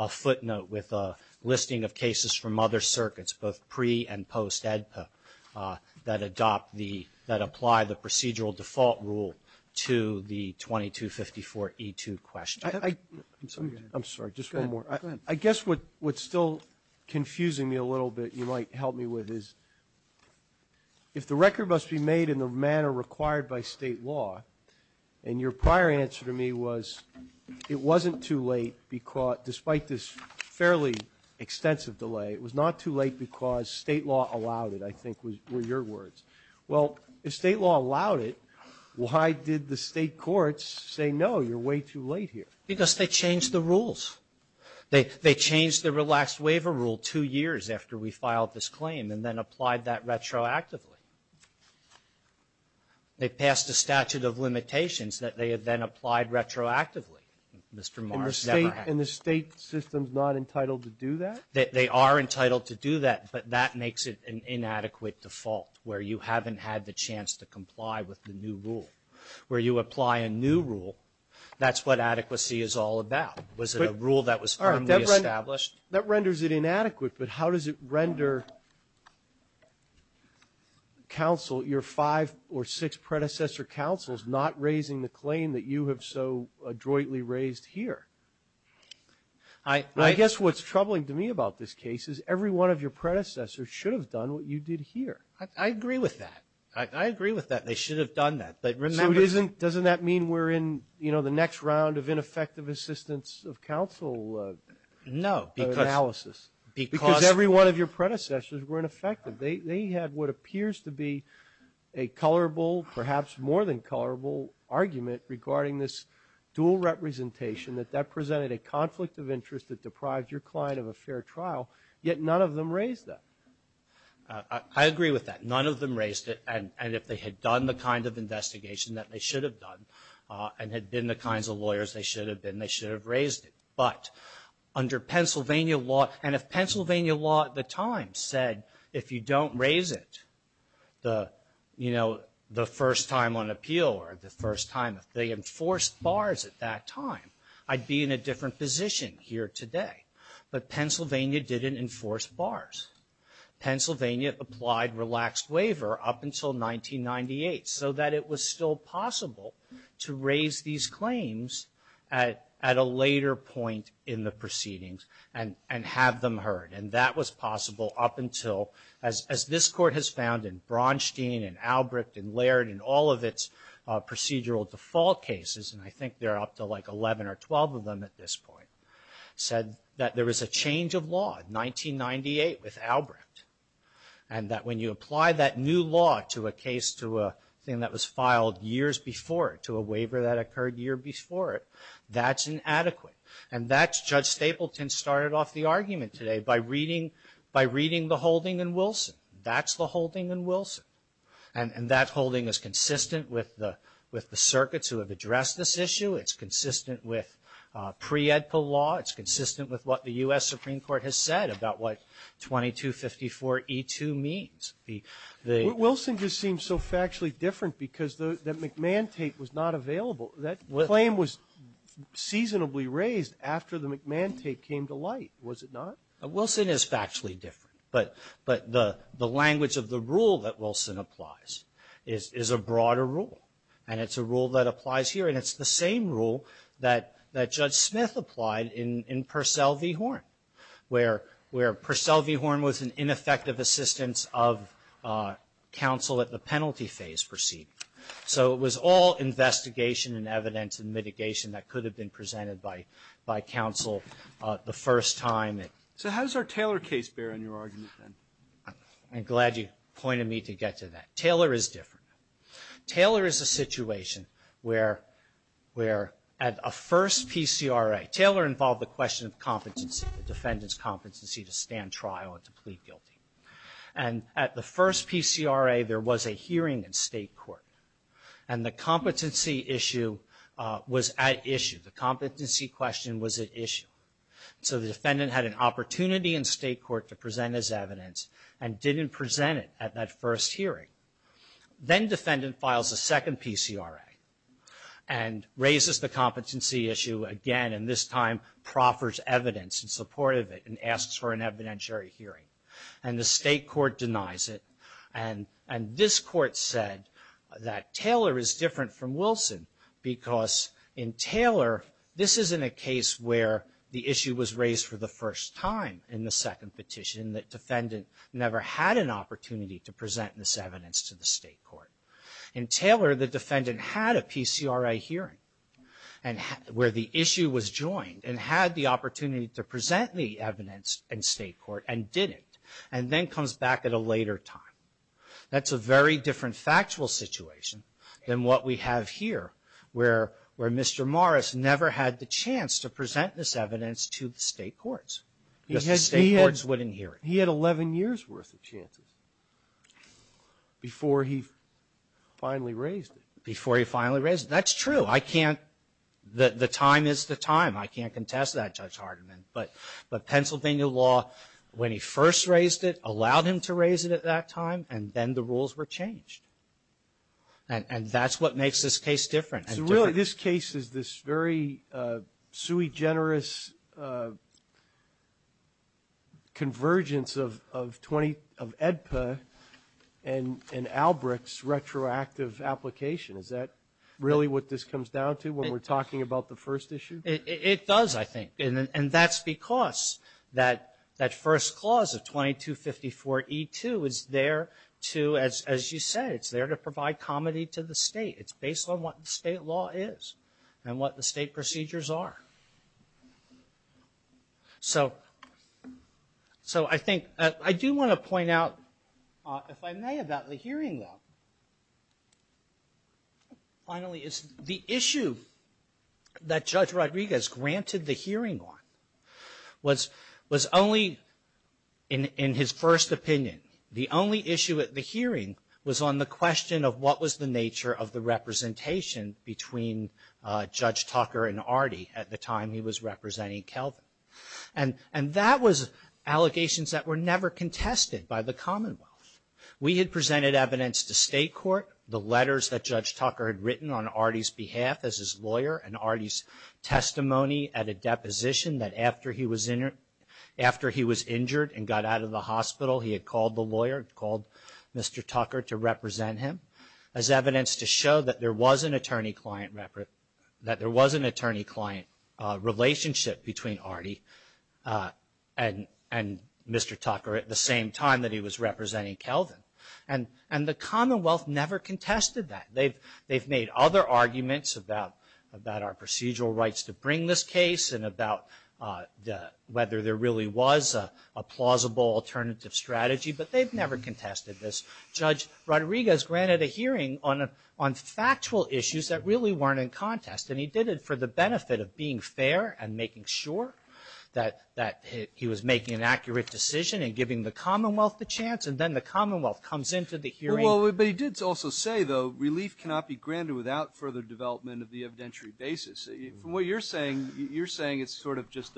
footnote with a listing of cases from other circuits, both pre- and post-EDCO that apply the procedural default rule to the 2254E2 question. I'm sorry. Just one more. I guess what's still confusing me a little bit you might help me with is if the record must be made in the manner required by state law and your prior answer to me was it wasn't too late despite this fairly extensive delay. It was not too late because state law allowed it I think were your words. Well, if state law allowed it, why did the state courts say no, you're way too late here? Because they changed the rules. They changed the relaxed waiver rule two years after we filed this claim and then applied that retroactively. They passed a statute of limitations that they then applied retroactively. And the state system is not entitled to do that? They are entitled to do that but that makes it an inadequate default where you haven't had the chance to comply with the new rule. Where you apply a new rule, that's what adequacy is all about. Was it a rule that was firmly established? That renders it inadequate but how does it render counsel, your five or six predecessor counsels not raising the claim that you have so adroitly raised here? I guess what's troubling to me about this case is every one of your predecessors should have done what you did here. I agree with that. I agree with that. They should have done that. Doesn't that mean we're in the next round of ineffective assistance of counsel analysis? No. Because every one of your predecessors were ineffective. They had what appears to be a colorable, perhaps more than colorable, argument regarding this dual representation that that presented a conflict of interest that deprived your client of a fair trial, yet none of them raised it. I agree with that. None of them raised it. And if they had done the kind of investigation that they should have done and had been the kinds of lawyers they should have been, they should have raised it. But under Pennsylvania law, and if Pennsylvania law at the time said, if you don't raise it the, you know, the first time on appeal or the first time they enforced bars at that time, I'd be in a different position here today. But Pennsylvania didn't enforce bars. Pennsylvania applied relaxed waiver up until 1998 so that it was still possible to raise these claims at a later point in the proceedings and have them heard. And that was possible up until, as this court has found in Braunstein and Albrecht and Laird and all of its procedural default cases, and I think there are up to like 11 or 12 of them at this point, said that there was a change of law, 1998 with Albrecht, and that when you apply that new law to a case to a thing that was filed years before it, to a waiver that occurred a year before it, that's inadequate. And that's Judge Stapleton started off the argument today by reading the holding in Wilson. That's the holding in Wilson. And that holding is consistent with the circuits who have addressed this issue. It's consistent with pre-EDPA law. It's consistent with what the U.S. Supreme Court has said about what 2254E2 means. Wilson just seems so factually different because the McMantate was not available. That claim was seasonably raised after the McMantate came to light, was it not? Wilson is factually different, but the language of the rule that Wilson applies is a broader rule, and it's a rule that applies here, and it's the same rule that Judge Smith applied in Purcell v. Horn, where Purcell v. Horn was an ineffective assistance of counsel at the penalty phase proceeding. So it was all investigation and evidence and mitigation that could have been presented by counsel the first time. So how does our Taylor case bear in your argument, then? I'm glad you pointed me to get to that. Taylor is different. Taylor is a situation where at a first PCRA, Taylor involved the question of competency, the defendant's competency to stand trial and to plead guilty. And at the first PCRA, there was a hearing in state court, and the competency issue was at issue. The competency question was at issue. So the defendant had an opportunity in state court to present his evidence and didn't present it at that first hearing. Then defendant files a second PCRA and raises the competency issue again, and this time proffers evidence in support of it and asks for an evidentiary hearing. And the state court denies it, and this court said that Taylor is different from Wilson because in Taylor, this isn't a case where the issue was raised for the first time in the second petition, the defendant never had an opportunity to present this evidence to the state court. In Taylor, the defendant had a PCRA hearing where the issue was joined and had the opportunity to present the evidence in state court and didn't, and then comes back at a later time. That's a very different factual situation than what we have here where Mr. Morris never had the chance to present this evidence to the state courts. The state courts wouldn't hear it. He had 11 years' worth of chances before he finally raised it. Before he finally raised it. That's true. I can't, the time is the time. I can't contest that, Judge Hardiman. But Pennsylvania law, when he first raised it, allowed him to raise it at that time, and then the rules were changed. And that's what makes this case different. So really this case is this very sui generis convergence of EDPA and Albrecht's retroactive application. Is that really what this comes down to when we're talking about the first issue? It does, I think. And that's because that first clause of 2254E2 is there to, as you said, it's there to provide comity to the state. It's based on what state law is and what the state procedures are. So I think, I do want to point out, if I may, about the hearing, though. Finally, the issue that Judge Rodriguez granted the hearing on was only, in his first opinion, the only issue at the hearing was on the question of what was the nature of the representation between Judge Tucker and Artie at the time he was representing Kelvin. And that was allegations that were never contested by the Commonwealth. We had presented evidence to state court, the letters that Judge Tucker had written on Artie's behalf as his lawyer and Artie's testimony at a deposition that after he was injured and got out of the hospital, he had called the lawyer, called Mr. Tucker to represent him, as evidence to show that there was an attorney-client relationship between Artie and Mr. Tucker at the same time that he was representing Kelvin. And the Commonwealth never contested that. They've made other arguments about our procedural rights to bring this case and about whether there really was a plausible alternative strategy, but they've never contested this. Judge Rodriguez granted a hearing on factual issues that really weren't in contest, and he did it for the benefit of being fair and making sure that he was making an accurate decision and giving the Commonwealth the chance, and then the Commonwealth comes into the hearing. Well, but he did also say, though, relief cannot be granted without further development of the evidentiary basis. From what you're saying, you're saying it's sort of just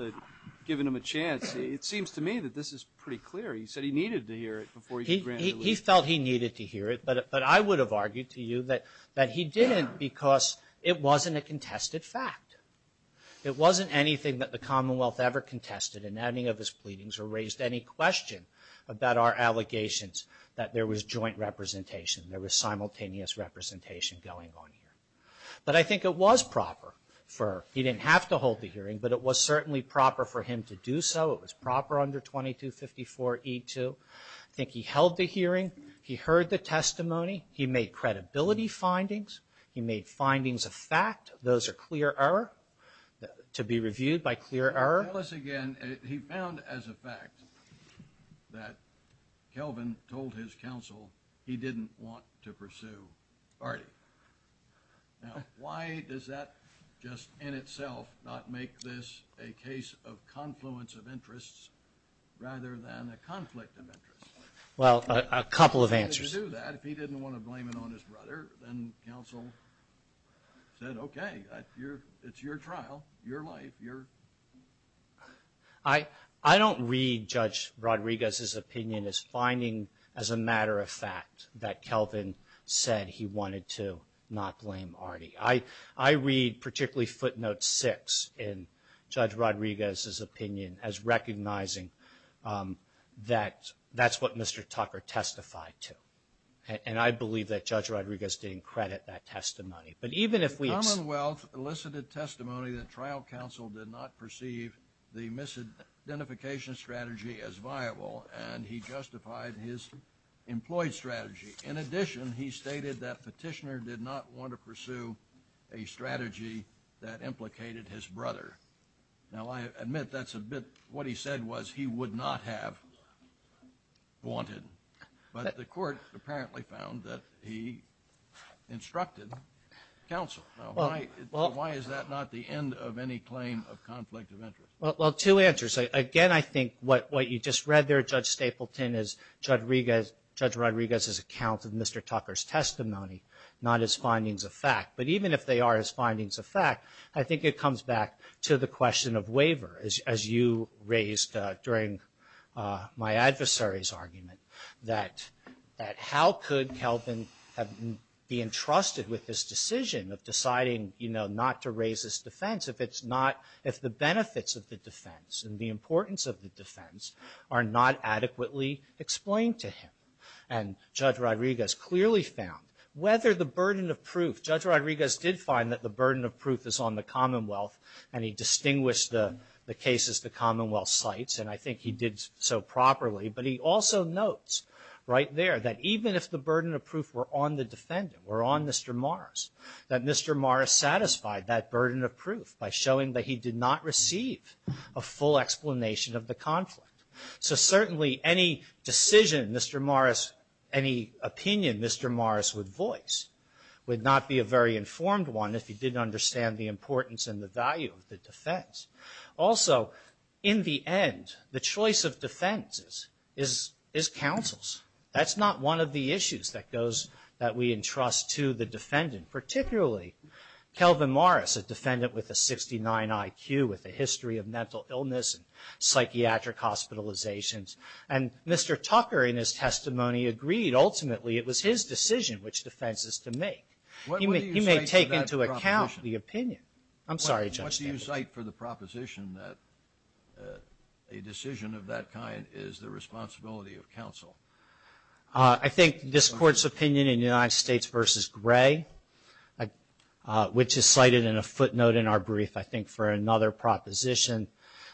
giving him a chance. It seems to me that this is pretty clear. He said he needed to hear it before he granted relief. He felt he needed to hear it, but I would have argued to you that he didn't because it wasn't a contested fact. It wasn't anything that the Commonwealth ever contested in any of his pleadings or raised any question about our allegations that there was joint representation, there was simultaneous representation going on here. But I think it was proper for, he didn't have to hold the hearing, but it was certainly proper for him to do so. It was proper under 2254E2. I think he held the hearing. He heard the testimony. He made credibility findings. He made findings of fact. Those are clear error, to be reviewed by clear error. Tell us again. He found as a fact that Kelvin told his counsel he didn't want to pursue. All right. Now, why does that just in itself not make this a case of confluence of interests rather than a conflict of interests? Well, a couple of answers. If he didn't want to do that, if he didn't want to blame it on his brother, then counsel said, okay, it's your trial, your life. I don't read Judge Rodriguez's opinion as finding as a matter of fact that Kelvin said he wanted to not blame Artie. I read particularly footnote six in Judge Rodriguez's opinion as recognizing that that's what Mr. Tucker testified to. And I believe that Judge Rodriguez didn't credit that testimony. The Commonwealth elicited testimony that trial counsel did not perceive the misidentification strategy as viable, and he justified his employee strategy. In addition, he stated that petitioner did not want to pursue a strategy that implicated his brother. Now, I admit that's a bit what he said was he would not have wanted. But the court apparently found that he instructed counsel. Now, why is that not the end of any claim of conflict of interest? Well, two answers. Again, I think what you just read there, Judge Stapleton, is Judge Rodriguez's account of Mr. Tucker's testimony, not as findings of fact. But even if they are his findings of fact, I think it comes back to the question of waiver, as you raised during my adversary's argument, that how could Kelvin be entrusted with this decision of deciding, you know, not to raise his defense if it's not – if the benefits of the defense and the importance of the defense are not adequately explained to him. And Judge Rodriguez clearly found whether the burden of proof – Judge Rodriguez did find that the burden of proof is on the Commonwealth, and he distinguished the cases the Commonwealth cites, and I think he did so properly. But he also notes right there that even if the burden of proof were on the defendant, were on Mr. Mars, that Mr. Mars satisfied that burden of proof by showing that he did not receive a full explanation of the conflict. So certainly any decision Mr. Mars – any opinion Mr. Mars would voice would not be a very informed one if he didn't understand the importance and the value of the defense. Also, in the end, the choice of defenses is counsel's. That's not one of the issues that goes – that we entrust to the defendant, particularly Kelvin Mars, a defendant with a 69 IQ with a history of mental illness and psychiatric hospitalizations. And Mr. Tucker in his testimony agreed. Ultimately, it was his decision which defenses to make. He may take into account the opinion. I'm sorry, Judge. What do you cite for the proposition that a decision of that kind is the responsibility of counsel? I think this court's opinion in United States v. Gray, which is cited in a footnote in our brief, I think, for another proposition.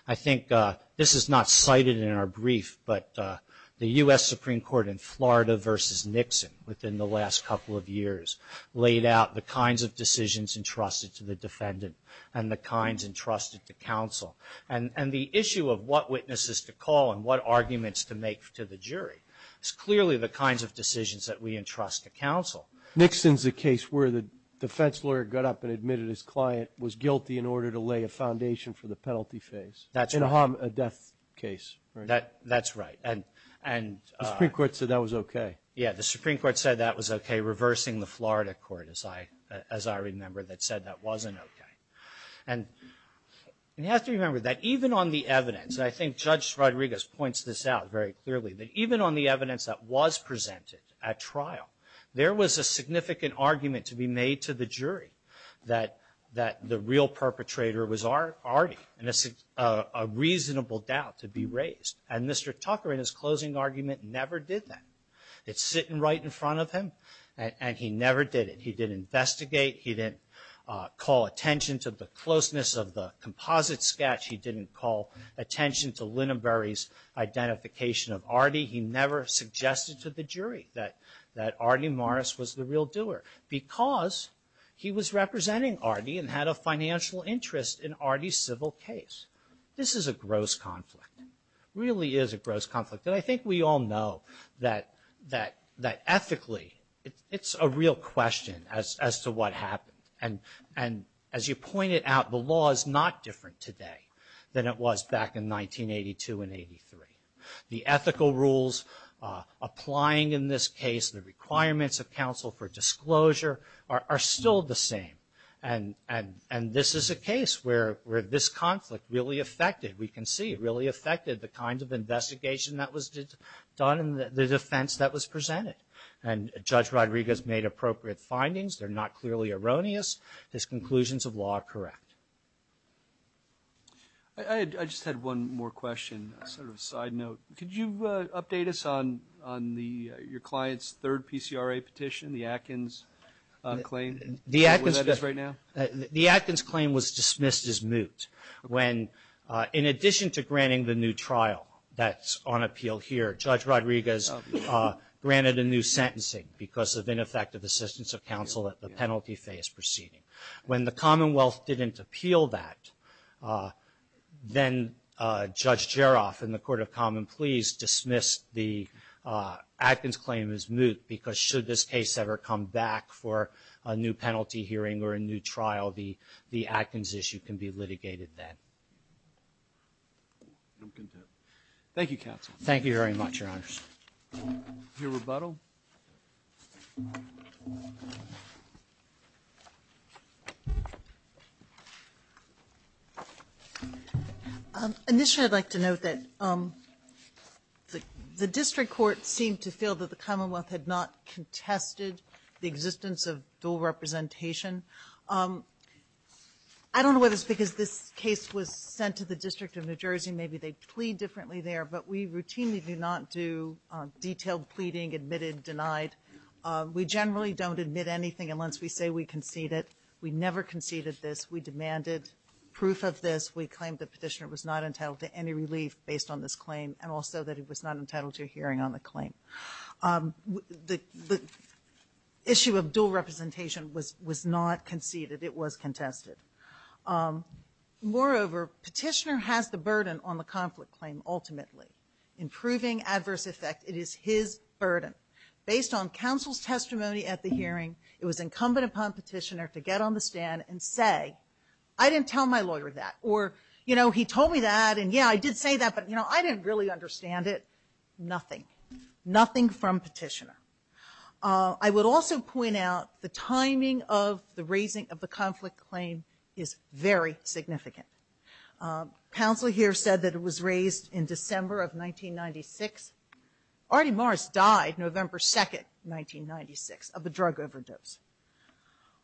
I think this is not cited in our brief, but the U.S. Supreme Court in Florida v. Nixon within the last couple of years laid out the kinds of decisions entrusted to the defendant and the kinds entrusted to counsel. And the issue of what witnesses to call and what arguments to make to the jury is clearly the kinds of decisions that we entrust to counsel. Nixon's a case where the defense lawyer got up and admitted his client was guilty in order to lay a foundation for the penalty phase. In a harm or death case. That's right. The Supreme Court said that was okay. Yeah, the Supreme Court said that was okay, reversing the Florida court, as I remember, that said that wasn't okay. And you have to remember that even on the evidence, and I think Judge Rodriguez points this out very clearly, that even on the evidence that was presented at trial, there was a significant argument to be made to the jury that the real perpetrator was Artie, and it's a reasonable doubt to be raised. And Mr. Tucker, in his closing argument, never did that. It's sitting right in front of him, and he never did it. He didn't investigate. He didn't call attention to the closeness of the composite sketch. He didn't call attention to Lineberry's identification of Artie. He never suggested to the jury that Artie Morris was the real doer, because he was representing Artie and had a financial interest in Artie's civil case. This is a gross conflict. It really is a gross conflict. And I think we all know that ethically, it's a real question as to what happened. And as you pointed out, the law is not different today than it was back in 1982 and 83. The ethical rules applying in this case, the requirements of counsel for disclosure, are still the same. And this is a case where this conflict really affected, we can see, really affected the kind of investigation that was done and the defense that was presented. And Judge Rodriguez made appropriate findings. They're not clearly erroneous. His conclusions of law are correct. I just had one more question, sort of a side note. Could you update us on your client's third PCRA petition, the Atkins claim? The Atkins claim was dismissed as moot. When, in addition to granting the new trial that's on appeal here, Judge Rodriguez granted a new sentencing because of ineffective assistance of counsel at the penalty phase proceeding. When the Commonwealth didn't appeal that, then Judge Jeroff and the Court of Common Pleas dismissed the Atkins claim as moot because should this case ever come back for a new penalty hearing or a new trial, the Atkins issue can be litigated then. I'm content. Thank you, counsel. Thank you very much, Your Honor. Your rebuttal. Initially, I'd like to note that the district court seemed to feel that the Commonwealth had not contested the existence of dual representation. I don't know whether it's because this case was sent to the District of New Jersey. Maybe they plead differently there. But we routinely do not do detailed pleading, admitted, denied. We generally don't admit anything unless we say we concede it. We never conceded this. We demanded proof of this. We claimed the petitioner was not entitled to any relief based on this claim and also that he was not entitled to a hearing on the claim. The issue of dual representation was not conceded. It was contested. Moreover, petitioner has the burden on the conflict claim ultimately. In proving adverse effect, it is his burden. Based on counsel's testimony at the hearing, it was incumbent upon petitioner to get on the stand and say, I didn't tell my lawyer that. Or, you know, he told me that and, yeah, I did say that, but, you know, I didn't really understand it. Nothing. Nothing from petitioner. I would also point out the timing of the raising of the conflict claim is very significant. Counsel here said that it was raised in December of 1996. Artie Morris died November 2, 1996, of a drug overdose.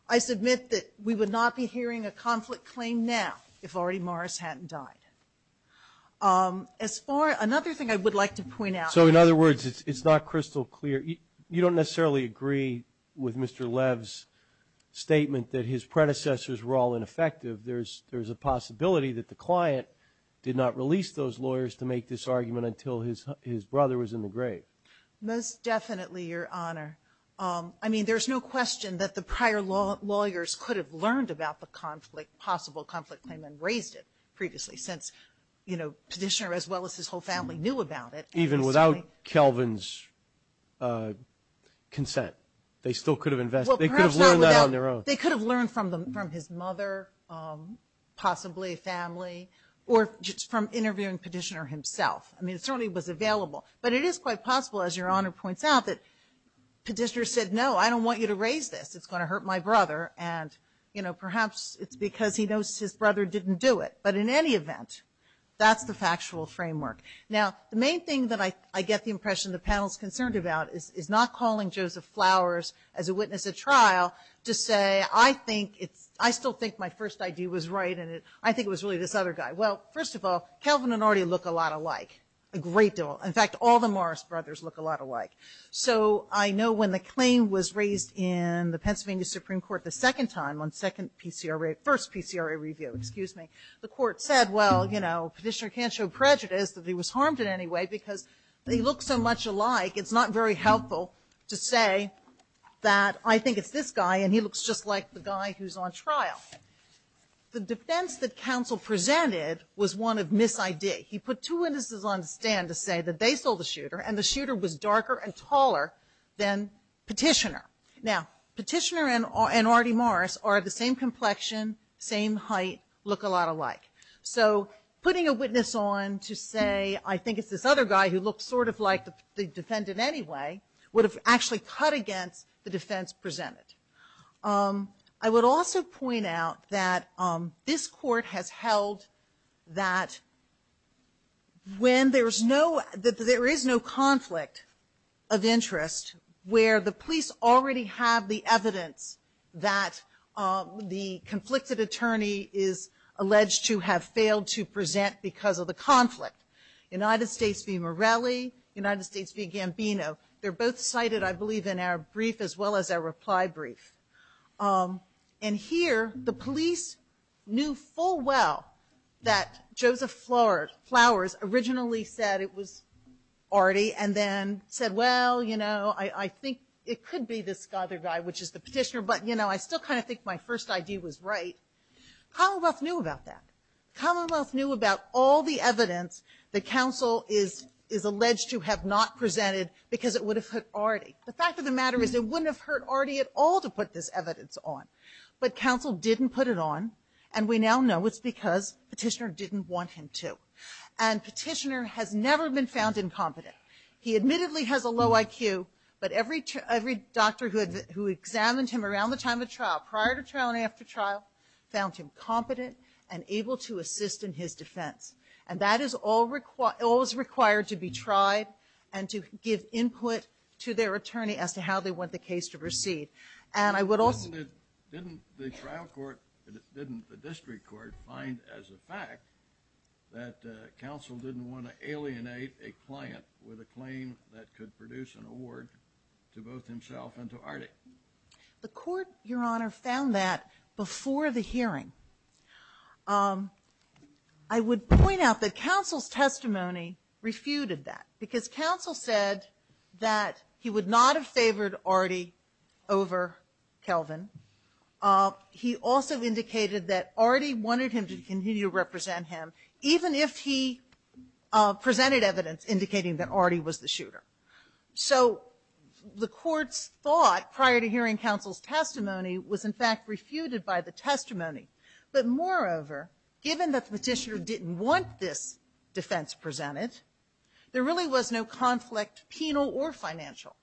I submit that we would not be hearing a conflict claim now if Artie Morris hadn't died. Another thing I would like to point out. So, in other words, it's not crystal clear. You don't necessarily agree with Mr. Lev's statement that his predecessors were all ineffective. There's a possibility that the client did not release those lawyers to make this argument until his brother was in the grave. Most definitely, Your Honor. I mean, there's no question that the prior lawyers could have learned about the possible conflict claim and raised it previously since, you know, petitioner as well as his whole family knew about it. Even without Kelvin's consent, they still could have invested. They could have learned that on their own. They could have learned from his mother, possibly a family, or from interviewing petitioner himself. I mean, it certainly was available. But it is quite possible, as Your Honor points out, that petitioner said, no, I don't want you to raise this. It's going to hurt my brother. And, you know, perhaps it's because he knows his brother didn't do it. But in any event, that's the factual framework. Now, the main thing that I get the impression the panel is concerned about is not calling Joseph Flowers as a witness at trial to say, I still think my first idea was right and I think it was really this other guy. Well, first of all, Kelvin and Artie look a lot alike, a great deal. In fact, all the Morris brothers look a lot alike. So I know when the claim was raised in the Pennsylvania Supreme Court the second time on first PCRA review, the court said, well, you know, I can't show prejudice that he was harmed in any way because they look so much alike. It's not very helpful to say that I think it's this guy and he looks just like the guy who's on trial. The defense that counsel presented was one of mis-idea. He put two witnesses on the stand to say that they sold the shooter and the shooter was darker and taller than petitioner. Now, petitioner and Artie Morris are the same complexion, same height, look a lot alike. So putting a witness on to say I think it's this other guy who looks sort of like the defendant anyway would have actually cut against the defense presented. I would also point out that this court has held that when there is no conflict of interest where the police already have the evidence that the conflicted attorney is alleged to have failed to present because of the conflict, United States v. Morelli, United States v. Gambino, they're both cited I believe in our brief as well as our reply brief. And here the police knew full well that Joseph Flowers originally said it was Artie and then said, well, you know, I think it could be this other guy, which is the petitioner, but, you know, I still kind of think my first idea was right. Commonwealth knew about that. Commonwealth knew about all the evidence that counsel is alleged to have not presented because it would have hurt Artie. The fact of the matter is it wouldn't have hurt Artie at all to put this evidence on, but counsel didn't put it on and we now know it's because petitioner didn't want him to. And petitioner has never been found incompetent. He admittedly has a low IQ, but every doctor who examined him around the time of trial, prior to trial and after trial, found him competent and able to assist in his defense. And that is all required to be tried and to give input to their attorney as to how they want the case to proceed. Didn't the trial court, didn't the district court find as a fact that counsel didn't want to alienate a client with a claim that could produce an award to both himself and to Artie? The court, Your Honor, found that before the hearing. I would point out that counsel's testimony refuted that because counsel said that he would not have favored Artie over Kelvin. He also indicated that Artie wanted him to continue to represent him, even if he presented evidence indicating that Artie was the shooter. So the court thought, prior to hearing counsel's testimony, was in fact refuted by the testimony. But moreover, given that petitioner didn't want this defense presented, there really was no conflict, penal or financial.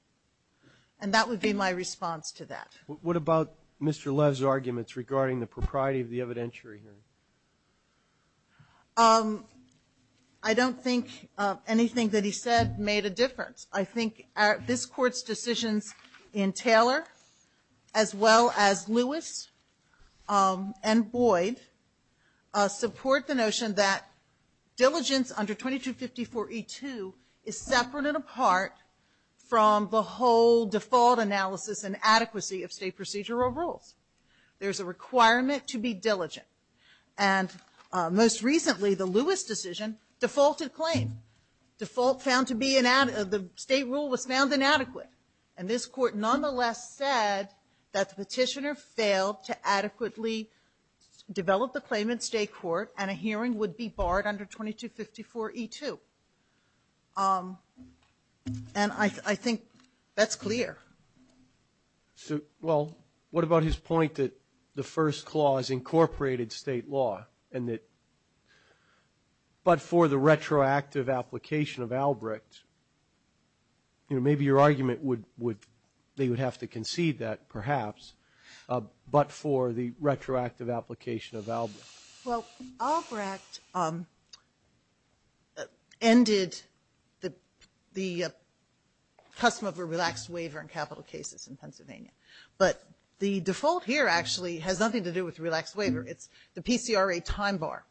And that would be my response to that. What about Mr. Love's arguments regarding the propriety of the evidentiary? I don't think anything that he said made a difference. I think this court's decisions in Taylor, as well as Lewis and Boyd, support the notion that diligence under 2254E2 is separate and apart from the whole default analysis and adequacy of state procedural rules. There's a requirement to be diligent. And most recently, the Lewis decision defaulted claims. Defaults found to be inadequate. The state rule was found inadequate. And this court nonetheless said that the petitioner failed to adequately develop the claim in state court and a hearing would be barred under 2254E2. And I think that's clear. Well, what about his point that the first clause incorporated state law, but for the retroactive application of Albrechts? Maybe your argument would be you would have to concede that perhaps, but for the retroactive application of Albrechts. Well, Albrechts ended the custom of a relaxed waiver in capital cases in Pennsylvania. But the default here actually has nothing to do with relaxed waiver. It's the PCRA time bar.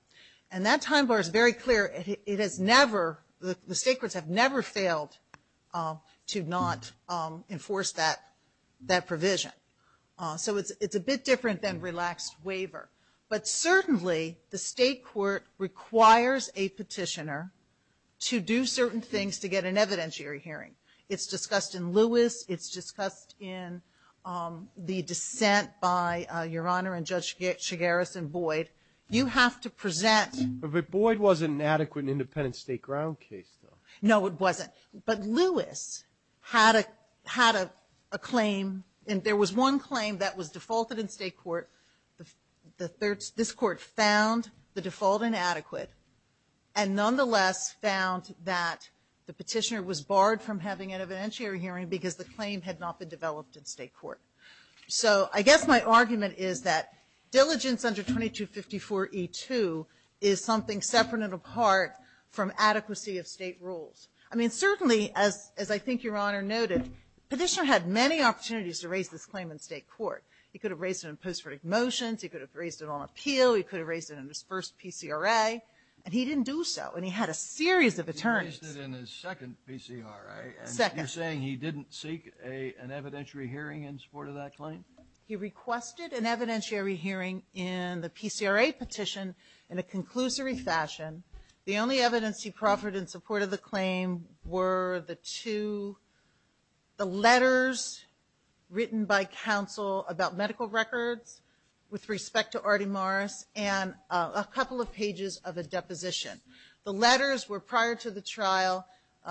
And that time bar is very clear. The state courts have never failed to not enforce that provision. So it's a bit different than relaxed waiver. But certainly, the state court requires a petitioner to do certain things to get an evidentiary hearing. It's discussed in Lewis. It's discussed in the dissent by Your Honor and Judge Shigaris and Boyd. But Boyd wasn't an adequate independent state ground case, though. No, it wasn't. But Lewis had a claim, and there was one claim that was defaulted in state court. This court found the default inadequate and nonetheless found that the petitioner was barred from having an evidentiary hearing because the claim had not been developed in state court. So I guess my argument is that diligence under 2254E2 is something separate and apart from adequacy of state rules. I mean, certainly, as I think Your Honor noted, the petitioner had many opportunities to raise this claim in state court. He could have raised it in post-critic motions. He could have raised it on appeal. He could have raised it in his first PCRA. And he didn't do so, and he had a series of attorneys. He raised it in his second PCRA. Second. So you're saying he didn't seek an evidentiary hearing in support of that claim? He requested an evidentiary hearing in the PCRA petition in a conclusory fashion. The only evidence he proffered in support of the claim were the two letters written by counsel about medical records with respect to Artie Morris and a couple of pages of a deposition. The letters were prior to the trial.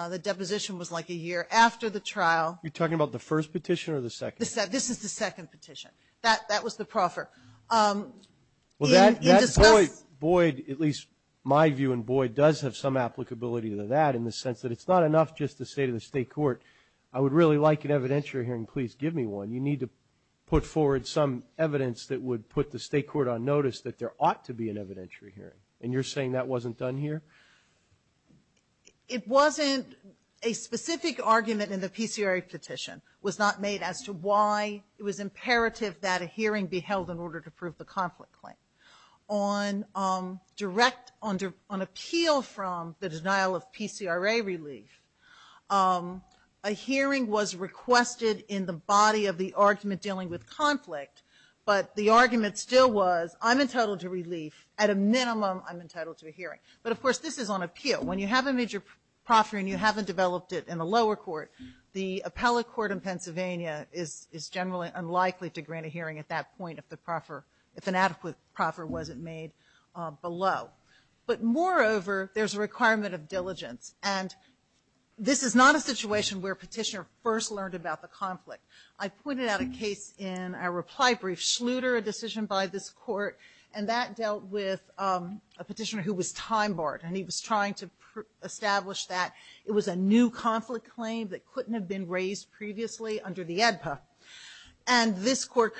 The deposition was like a year after the trial. Are you talking about the first petition or the second? This is the second petition. That was the proffer. Well, that void, at least my view in void, does have some applicability to that in the sense that it's not enough just to say to the state court, I would really like an evidentiary hearing. Please give me one. You need to put forward some evidence that would put the state court on notice that there ought to be an evidentiary hearing. And you're saying that wasn't done here? It wasn't. A specific argument in the PCRA petition was not made as to why it was imperative that a hearing be held in order to prove the conflict claim. On appeal from the denial of PCRA relief, a hearing was requested in the body of the argument dealing with conflict, but the argument still was I'm entitled to relief. At a minimum, I'm entitled to a hearing. But, of course, this is on appeal. When you have a major proffer and you haven't developed it in the lower court, the appellate court in Pennsylvania is generally unlikely to grant a hearing at that point if an adequate proffer wasn't made below. But, moreover, there's a requirement of diligence, and this is not a situation where a petitioner first learned about the conflict. I pointed out a case in our reply brief, Schluter, a decision by this court, and that dealt with a petitioner who was time-barred, and he was trying to establish that it was a new conflict claim that couldn't have been raised previously under the AEDPA. And this court concluded,